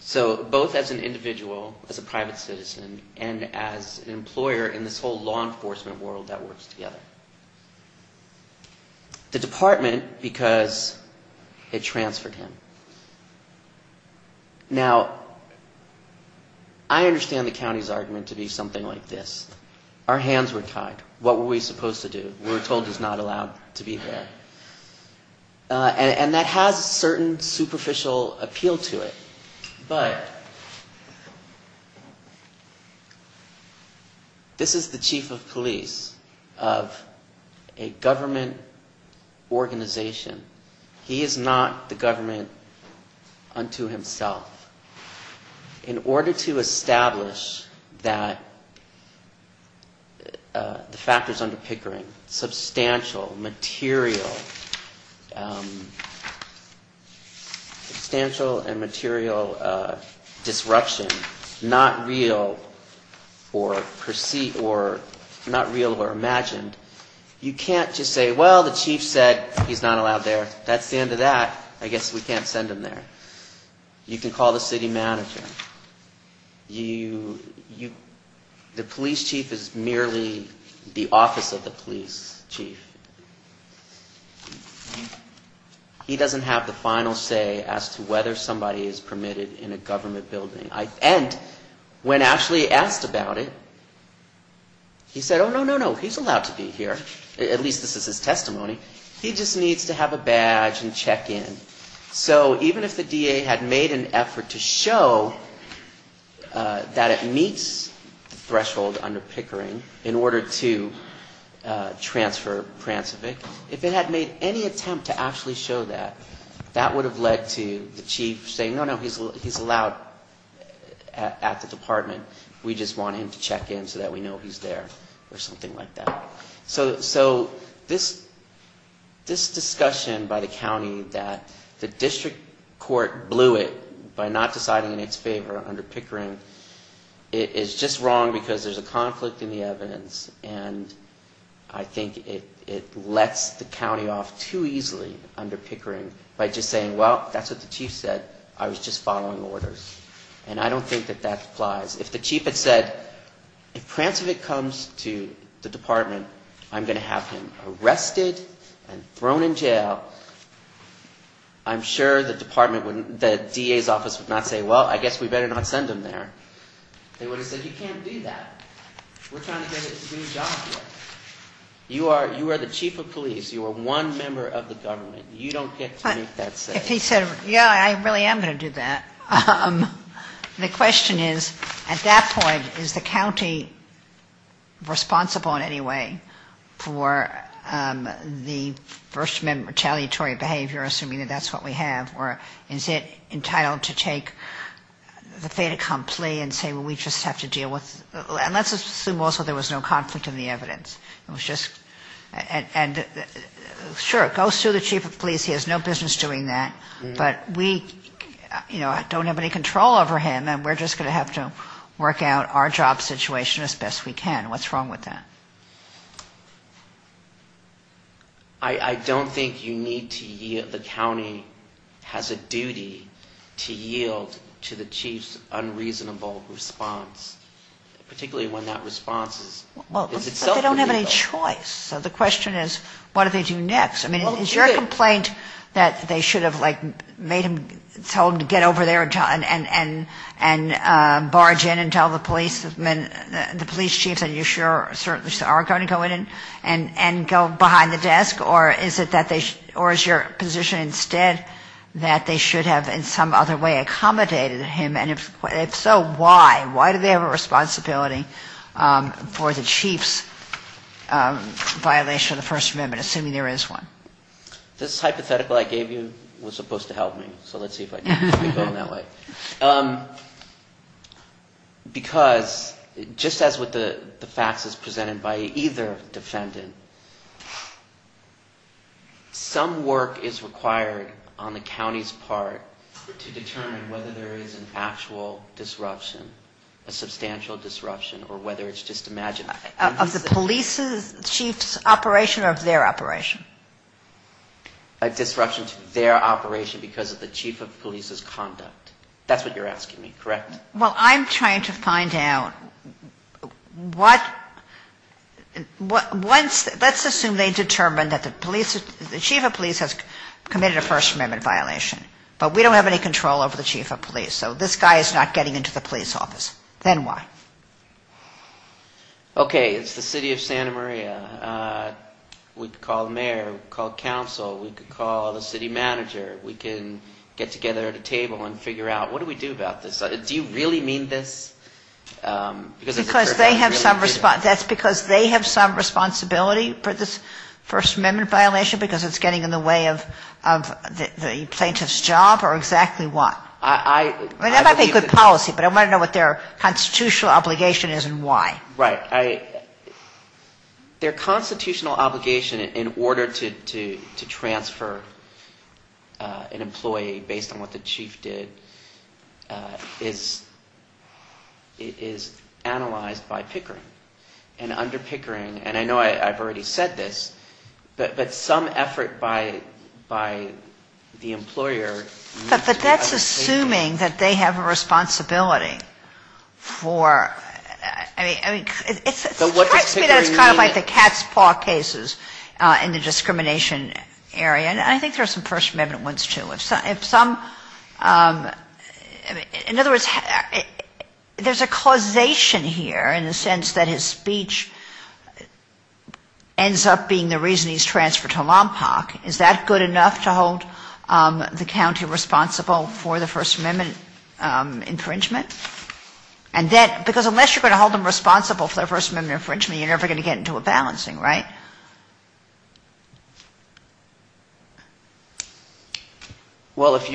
So both as an individual, as a private citizen, and as an employer in this whole law enforcement world that works together. The department, because it transferred him. Now, I understand the county's argument to be something like this. Our hands were tied. What were we supposed to do? We were told he's not allowed to be here. And that has a certain superficial appeal to it. But this is the chief of police of a government organization. He is not the government unto himself. In order to establish that the factors under Pickering, substantial, material, that he is not the government unto himself, substantial and material disruption, not real or perceived or not real or imagined, you can't just say, well, the chief said he's not allowed there. That's the end of that. I guess we can't send him there. You can call the city manager. The police chief is merely the office of the police chief. He doesn't have the final say as to whether somebody is permitted in a government building. And when actually asked about it, he said, oh, no, no, no, he's allowed to be here. At least this is his testimony. He just needs to have a badge and check in. So even if the DA had made an effort to show that it meets the threshold under Pickering in order to transfer Prancevich, if it had made any attempt to actually show that, that would have led to the chief saying, no, no, he's allowed at the department. We just want him to check in so that we know he's there or something like that. So this discussion by the county that the district court blew it by not deciding in its favor under Pickering is just wrong because there's a conflict in the evidence. And I think it lets the county off too easily under Pickering by just saying, well, that's what the chief said. I was just following orders. And I don't think that that applies. If the chief had said, if Prancevich comes to the department, I'm going to have him arrested and thrown in jail, I'm sure the department wouldn't, the DA's office would not say, well, I guess we better not send him there. They would have said, you can't do that. We're trying to get him to do his job here. You are the chief of police. You are one member of the government. You don't get to make that say. If he said, yeah, I really am going to do that. The question is, at that point, is the county responsible in any way for the First Amendment retaliatory behavior, assuming that that's what we have? Or is it entitled to take the fait accompli and say, well, we just have to deal with it? And let's assume also there was no conflict in the evidence. And sure, it goes to the chief of police. He has no business doing that. But we don't have any control over him. And we're just going to have to work out our job situation as best we can. What's wrong with that? I don't think you need to yield. The county has a duty to yield to the chief's unreasonable response, particularly when that response is that he has no choice. So the question is, what do they do next? I mean, is your complaint that they should have, like, made him, told him to get over there and barge in and tell the police, the police chiefs, and you sure certainly are going to go in and go behind the desk? Or is it that they, or is your position instead that they should have in some other way accommodated him? And if so, why? Why do they have a responsibility for the chief's unreasonable response? Why do they have a responsibility for that violation of the First Amendment, assuming there is one? This hypothetical I gave you was supposed to help me, so let's see if I can keep it going that way. Because just as with the faxes presented by either defendant, some work is required on the county's part to determine whether there is an actual disruption, a substantial disruption, or whether it's just imaginary. Is this the chief's operation or their operation? A disruption to their operation because of the chief of police's conduct. That's what you're asking me, correct? Well, I'm trying to find out what, let's assume they determined that the chief of police has committed a First Amendment violation, but we don't have any control over the chief of police. So this guy is not getting into the police office. Then why? Okay. It's the city of Santa Maria. We could call the mayor. We could call council. We could call the city manager. We can get together at a table and figure out, what do we do about this? Do you really mean this? Because they have some responsibility for this First Amendment violation because it's getting in the way of the plaintiff's job or exactly what? That might be good policy, but I want to know what their constitutional obligation is and why. Right. Their constitutional obligation in order to transfer an employee based on what the chief did is analyzed by Pickering. And under Pickering, and I know I've already said this, but some effort by the employer... But that's assuming that they have a responsibility for, I mean, it strikes me that it's kind of like the cat's paw cases in the discrimination area. And I think there are some First Amendment ones, too. If some, in other words, there's a causation here in the sense that his speech ends up being the reason he's transferred to Lompoc. Is that good enough to hold the county responsible for the First Amendment infringement? And then, because unless you're going to hold them responsible for the First Amendment infringement, you're never going to get into a balancing, right? Well, if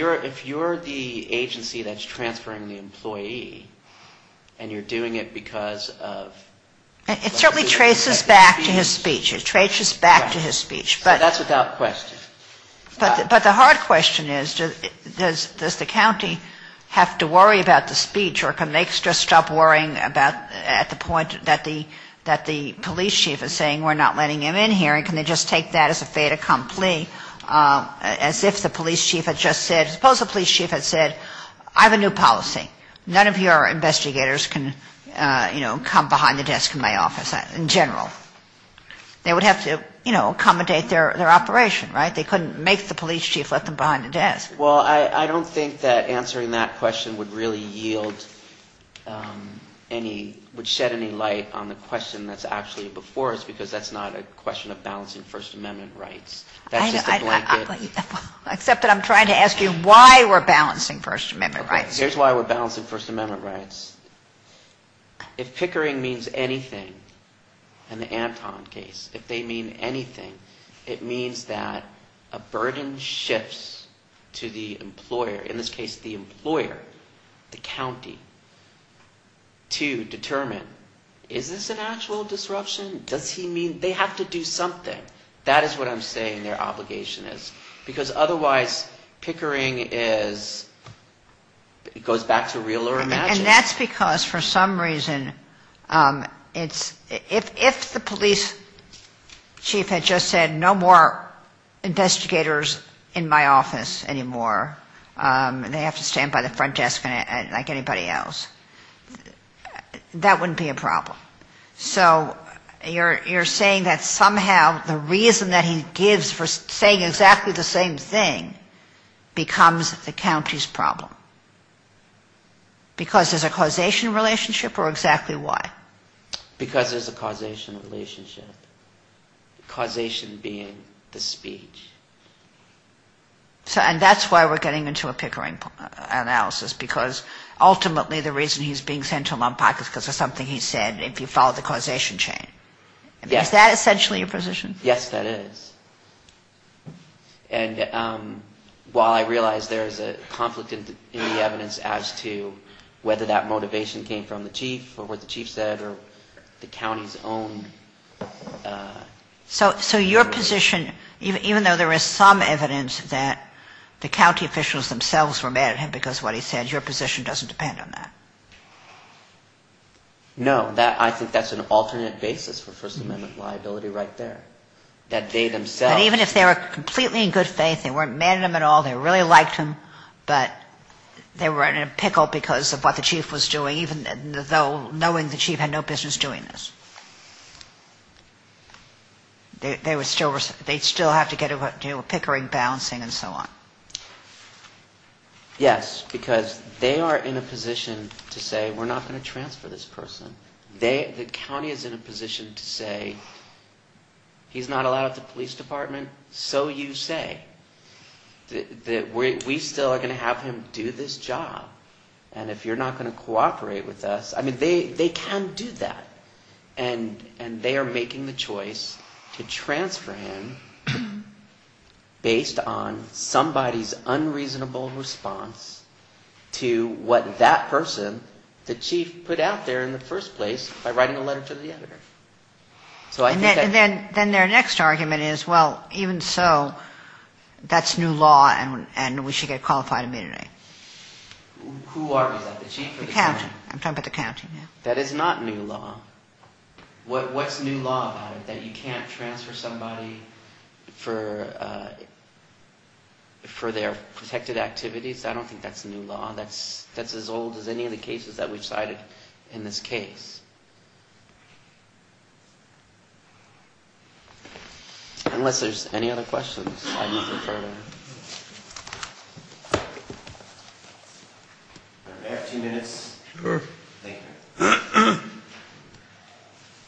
you're the agency that's transferring the employee and you're doing it because of... It certainly traces back to his speech. It traces back to his speech. Right. So that's without question. But the hard question is, does the county have to worry about the speech, or can they just stop worrying at the point that the police chief is saying we're not letting him in here, and can they just take that as a fait accompli, as if the police chief had just said, suppose the police chief had said, I have a new policy. None of your investigators can, you know, come behind the desk and tell me what to do. Well, I don't think that answering that question would really yield any, would shed any light on the question that's actually before us, because that's not a question of balancing First Amendment rights. That's just a blanket... Except that I'm trying to ask you why we're balancing First Amendment rights. Here's why we're balancing First Amendment rights. If pickering means anything in the Anton case, if they mean anything, it means that a burden shifts to the employer, in this case the employer, the county, to determine, is this an actual disruption? Does he mean... They have to do something. That is what I'm saying their obligation is. Because otherwise, pickering is, it goes back to real or imagined. And that's because for some reason, it's, if the police chief had just said, no more investigators in my office anymore, and they have to stand by the front desk like anybody else, that wouldn't be a problem. So you're saying that somehow the reason that he gives for saying exactly the same thing becomes the county's problem. Because there's a causation relationship, or exactly why? Because there's a causation relationship. Causation being the speech. And that's why we're getting into a pickering analysis, because ultimately the reason he's being sent to a lump pocket is because of something he said. If you follow the causation chain. Is that essentially your position? Yes, that is. And while I realize there's a conflict in the evidence as to whether that motivation came from the chief or what the chief said or the county's own... So your position, even though there is some evidence that the county officials themselves were mad at him because of what he said, your position doesn't depend on that? No. I think that's an alternate basis for First Amendment liability right there. That they themselves... But even if they were completely in good faith, they weren't mad at him at all, they really liked him, but they were in a pickle because of what the chief was doing, even though knowing the chief had no business doing this. They still have to get into a pickering, balancing and so on. Yes, because they are in a position to say, we're not going to transfer this person. The county is in a position to say, he's not allowed at the police department, so you say. We still are going to have him do this job. And if you're not going to cooperate with us... I mean, they can do that. And they are making the choice to transfer him based on some basis. It's somebody's unreasonable response to what that person, the chief, put out there in the first place by writing a letter to the editor. And then their next argument is, well, even so, that's new law and we should get qualified immediately. Who argues that, the chief or the county? The county. I'm talking about the county. That is not new law. What's new law about it, that you can't transfer somebody for their protected activities? I don't think that's new law. That's as old as any of the cases that we've cited in this case. Unless there's any other questions, I move for further. Mayor, two minutes.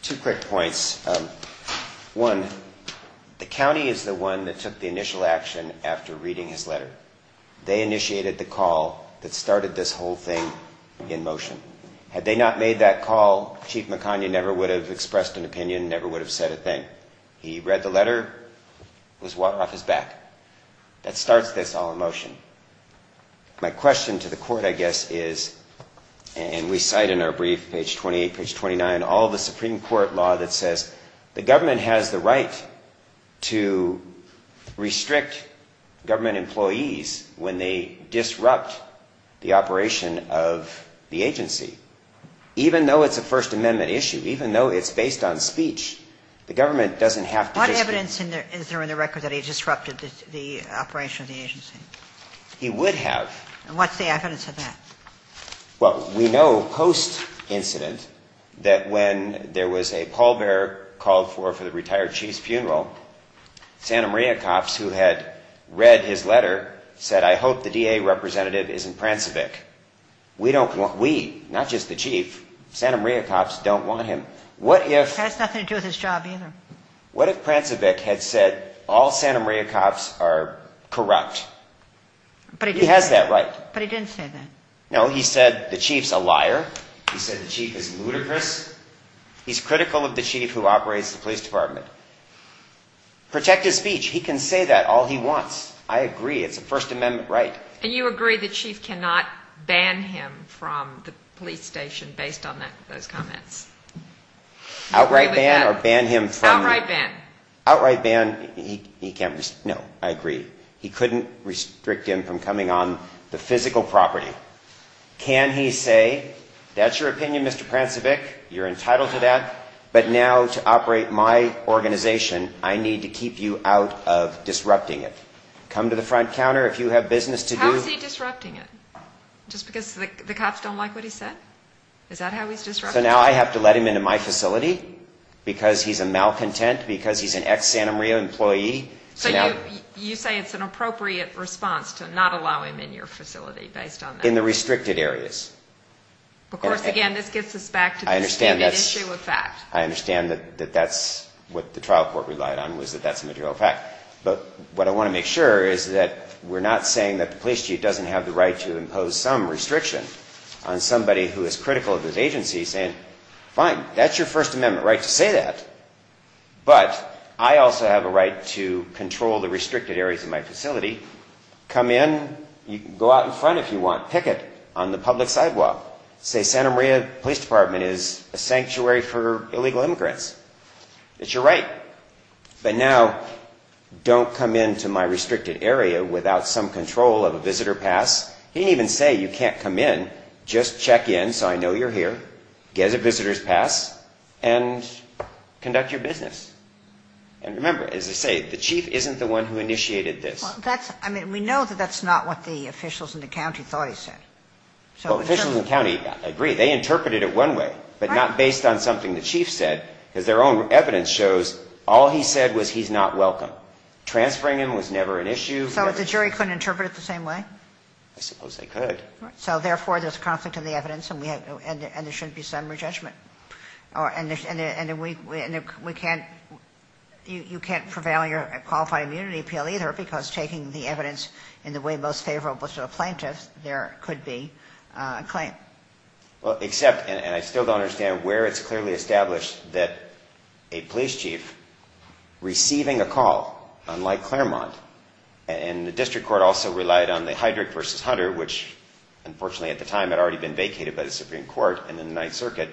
Two quick points. One, the county is the one that took the initial action after reading his letter. They initiated the call that started this whole thing in motion. Had they not made that call, Chief McConaughey never would have expressed an opinion, never would have said a thing. He read the letter, it was water off his back. That starts this all in motion. My question to the court, I guess, is, and we cite in our brief, page 28, page 29, all the Supreme Court law that says, the government has the right to restrict government employees when they disrupt the operation of the agency. Even though it's a First Amendment issue, even though it's based on speech, the government doesn't have to just... What evidence is there in the record that he disrupted the operation of the agency? He would have. And what's the evidence of that? Well, we know post-incident that when there was a pallbearer called for for the retired chief's funeral, Santa Maria cops who had read his letter said, I hope the DA representative isn't Prancevic. We don't want, we, not just the chief, Santa Maria cops don't want him. What if... It has nothing to do with his job either. What if Prancevic had said all Santa Maria cops are corrupt? He has that right. But he didn't say that. No, he said the chief's a liar. He said the chief is ludicrous. He's critical of the chief who operates the police department. Protect his speech. He can say that all he wants. I agree. It's a First Amendment right. And you agree the chief cannot ban him from the police station based on that, those comments? Outright ban or ban him from... Can he say, that's your opinion, Mr. Prancevic. You're entitled to that. But now to operate my organization, I need to keep you out of disrupting it. Come to the front counter if you have business to do. How is he disrupting it? Just because the cops don't like what he said? Is that how he's disrupting it? So now I have to let him into my facility because he's a malcontent, because he's an ex-Santa Maria employee. So you say it's an appropriate response to not allow him in your facility based on that? In the restricted areas. Of course, again, this gets us back to the stupid issue of fact. I understand that that's what the trial court relied on, was that that's a material fact. But what I want to make sure is that we're not saying that the police chief doesn't have the right to impose some restriction on somebody who is critical of his agency saying, fine, that's your First Amendment right to say that. But I also have a right to control the restricted areas of my facility. Come in. Go out in front if you want. Picket on the public sidewalk. Say Santa Maria Police Department is a sanctuary for illegal immigrants. It's your right. But now don't come into my restricted area without some control of a visitor pass. He didn't even say you can't come in. Just check in so I know you're here. Get a visitor's pass and conduct your business. And remember, as I say, the chief isn't the one who initiated this. We know that that's not what the officials in the county thought he said. Officials in the county agree. They interpreted it one way, but not based on something the chief said because their own evidence shows all he said was he's not welcome. Transferring him was never an issue. So the jury couldn't interpret it the same way? I suppose they could. So therefore, there's conflict in the evidence and we have and there should be some rejudgment. And we can't you can't prevail in your qualified immunity appeal either because taking the evidence in the way most favorable to the plaintiffs, there could be a claim. Well, except and I still don't understand where it's clearly established that a police chief receiving a call, unlike Claremont, and the district court also relied on the Heidrich versus Hunter, which unfortunately at the time had already been vacated by the Supreme Court and then the Ninth Circuit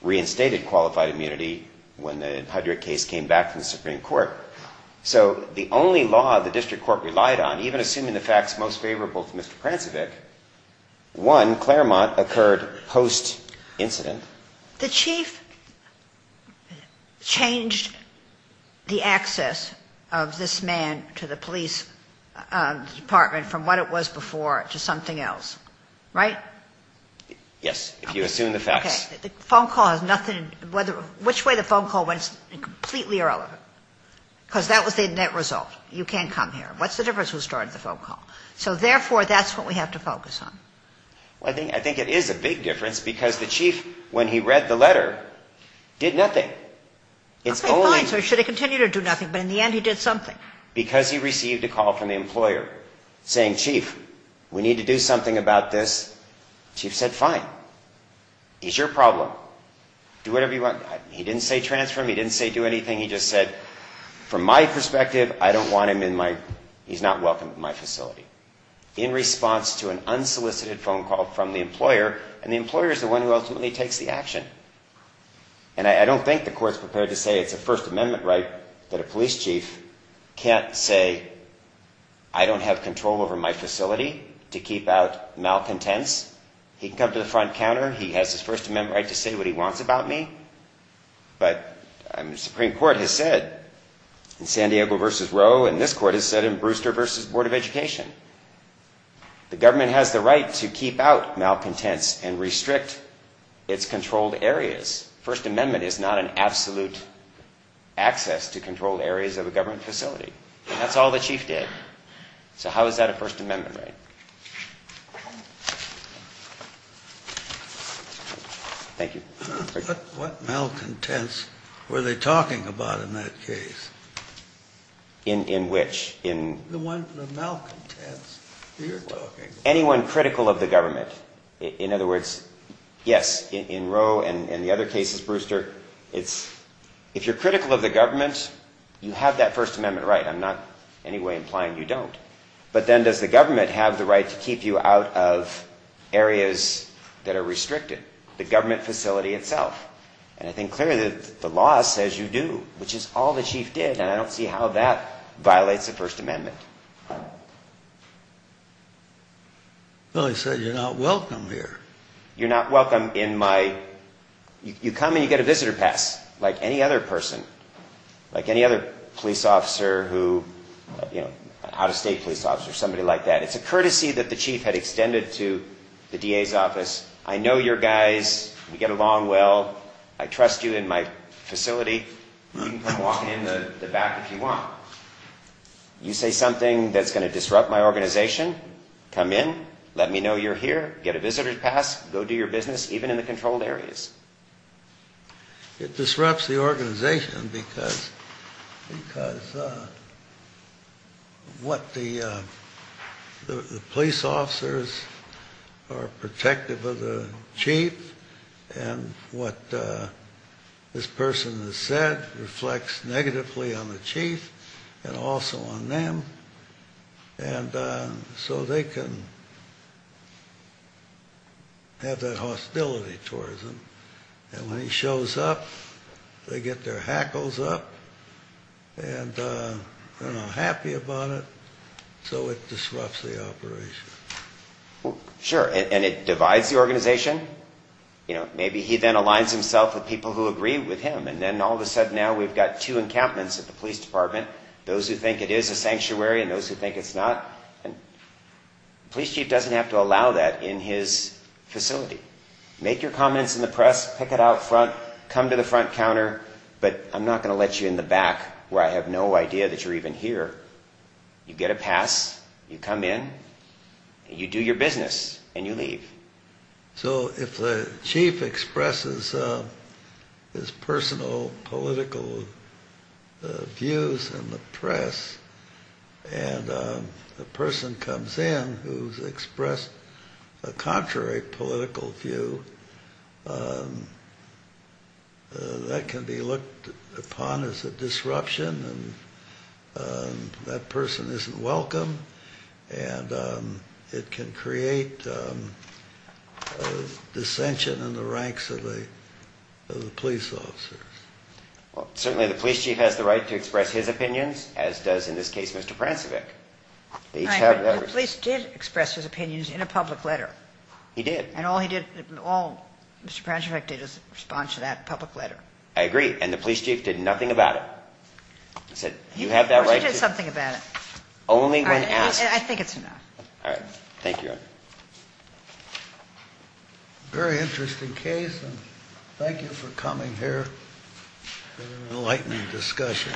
reinstated qualified immunity when the Heidrich case came back from the Supreme Court. So the only law the district court relied on, even assuming the facts most favorable to Mr. Prancevic, one, Claremont, occurred post-incident. The chief changed the access of this man to the police department from what it was before to something else, right? Yes, if you assume the facts. Which way the phone call went is completely irrelevant because that was the net result. You can't come here. What's the difference who started the phone call? So therefore, that's what we have to focus on. Well, I think it is a big difference because the chief, when he read the letter, did nothing. Okay, fine. So should he continue to do nothing? But in the end, he did something. Because he received a call from the employer saying, chief, we need to do something about this. Chief said, fine. He's your problem. Do whatever you want. He didn't say transfer him. He didn't say do anything. He just said, from my perspective, I don't want him in my, he's not welcome in my facility. In response to an unsolicited phone call from the employer, and the employer is the one who ultimately takes the action. And I don't think the court's prepared to say it's a First Amendment right that a police chief can't say, I don't have control over my facility, to keep out malcontents. He can come to the front counter. He has his First Amendment right to say what he wants about me. But the Supreme Court has said, in San Diego v. Roe, and this court has said in Brewster v. Board of Education, the government has the right to keep out malcontents and restrict its control to everyone. First Amendment is not an absolute access to control areas of a government facility. And that's all the chief did. So how is that a First Amendment right? Thank you. What malcontents were they talking about in that case? In which? The one, the malcontents you're talking about. Anyone critical of the government. In other words, yes, in Roe and the other cases, Brewster, if you're critical of the government, you have that First Amendment right. I'm not in any way implying you don't. But then does the government have the right to keep you out of areas that are restricted? The government facility itself. And I think clearly the law says you do, which is all the chief did, and I don't see how that violates the First Amendment. Well, he said you're not welcome here. You're not welcome in my, you come and you get a visitor pass like any other person, like any other police officer who, you know, out of state police officer, somebody like that. It's a courtesy that the chief had extended to the DA's office. I know your guys. We get along well. I trust you in my facility. You can come walk in the back if you want. You say something that's going to disrupt my organization. Come in. Let me know you're here. Get a visitor pass. Go do your business, even in the controlled areas. It disrupts the organization because what the police officers are protective of the chief and what this person has said reflects negatively on the chief and also on them. And so they can have that hostility towards him. And when he shows up, they get their hackles up, and they're not happy about it. So it disrupts the operation. Sure. And it divides the organization. You know, maybe he then aligns himself with people who agree with him. And then all of a sudden now we've got two encampments at the police department, those who think it is a sanctuary and those who think it's not. And the police chief doesn't have to allow that in his facility. Make your comments in the press. Pick it out front. Come to the front counter. But I'm not going to let you in the back where I have no idea that you're even here. You get a pass. You come in. You do your business. And you leave. So if the chief expresses his personal political views in the press and a person comes in who's expressed a contrary political view, that can be looked upon as a disruption. And that person isn't welcome. And it can create dissension in the ranks of the police officers. Well, certainly the police chief has the right to express his opinions, as does, in this case, Mr. Prancevich. The police did express his opinions in a public letter. He did. And all Mr. Prancevich did was respond to that public letter. I agree. And the police chief did nothing about it. He said, you have that right to. He did something about it. Only when asked. I think it's enough. All right. Thank you. Very interesting case. Thank you for coming here. Enlightening discussion.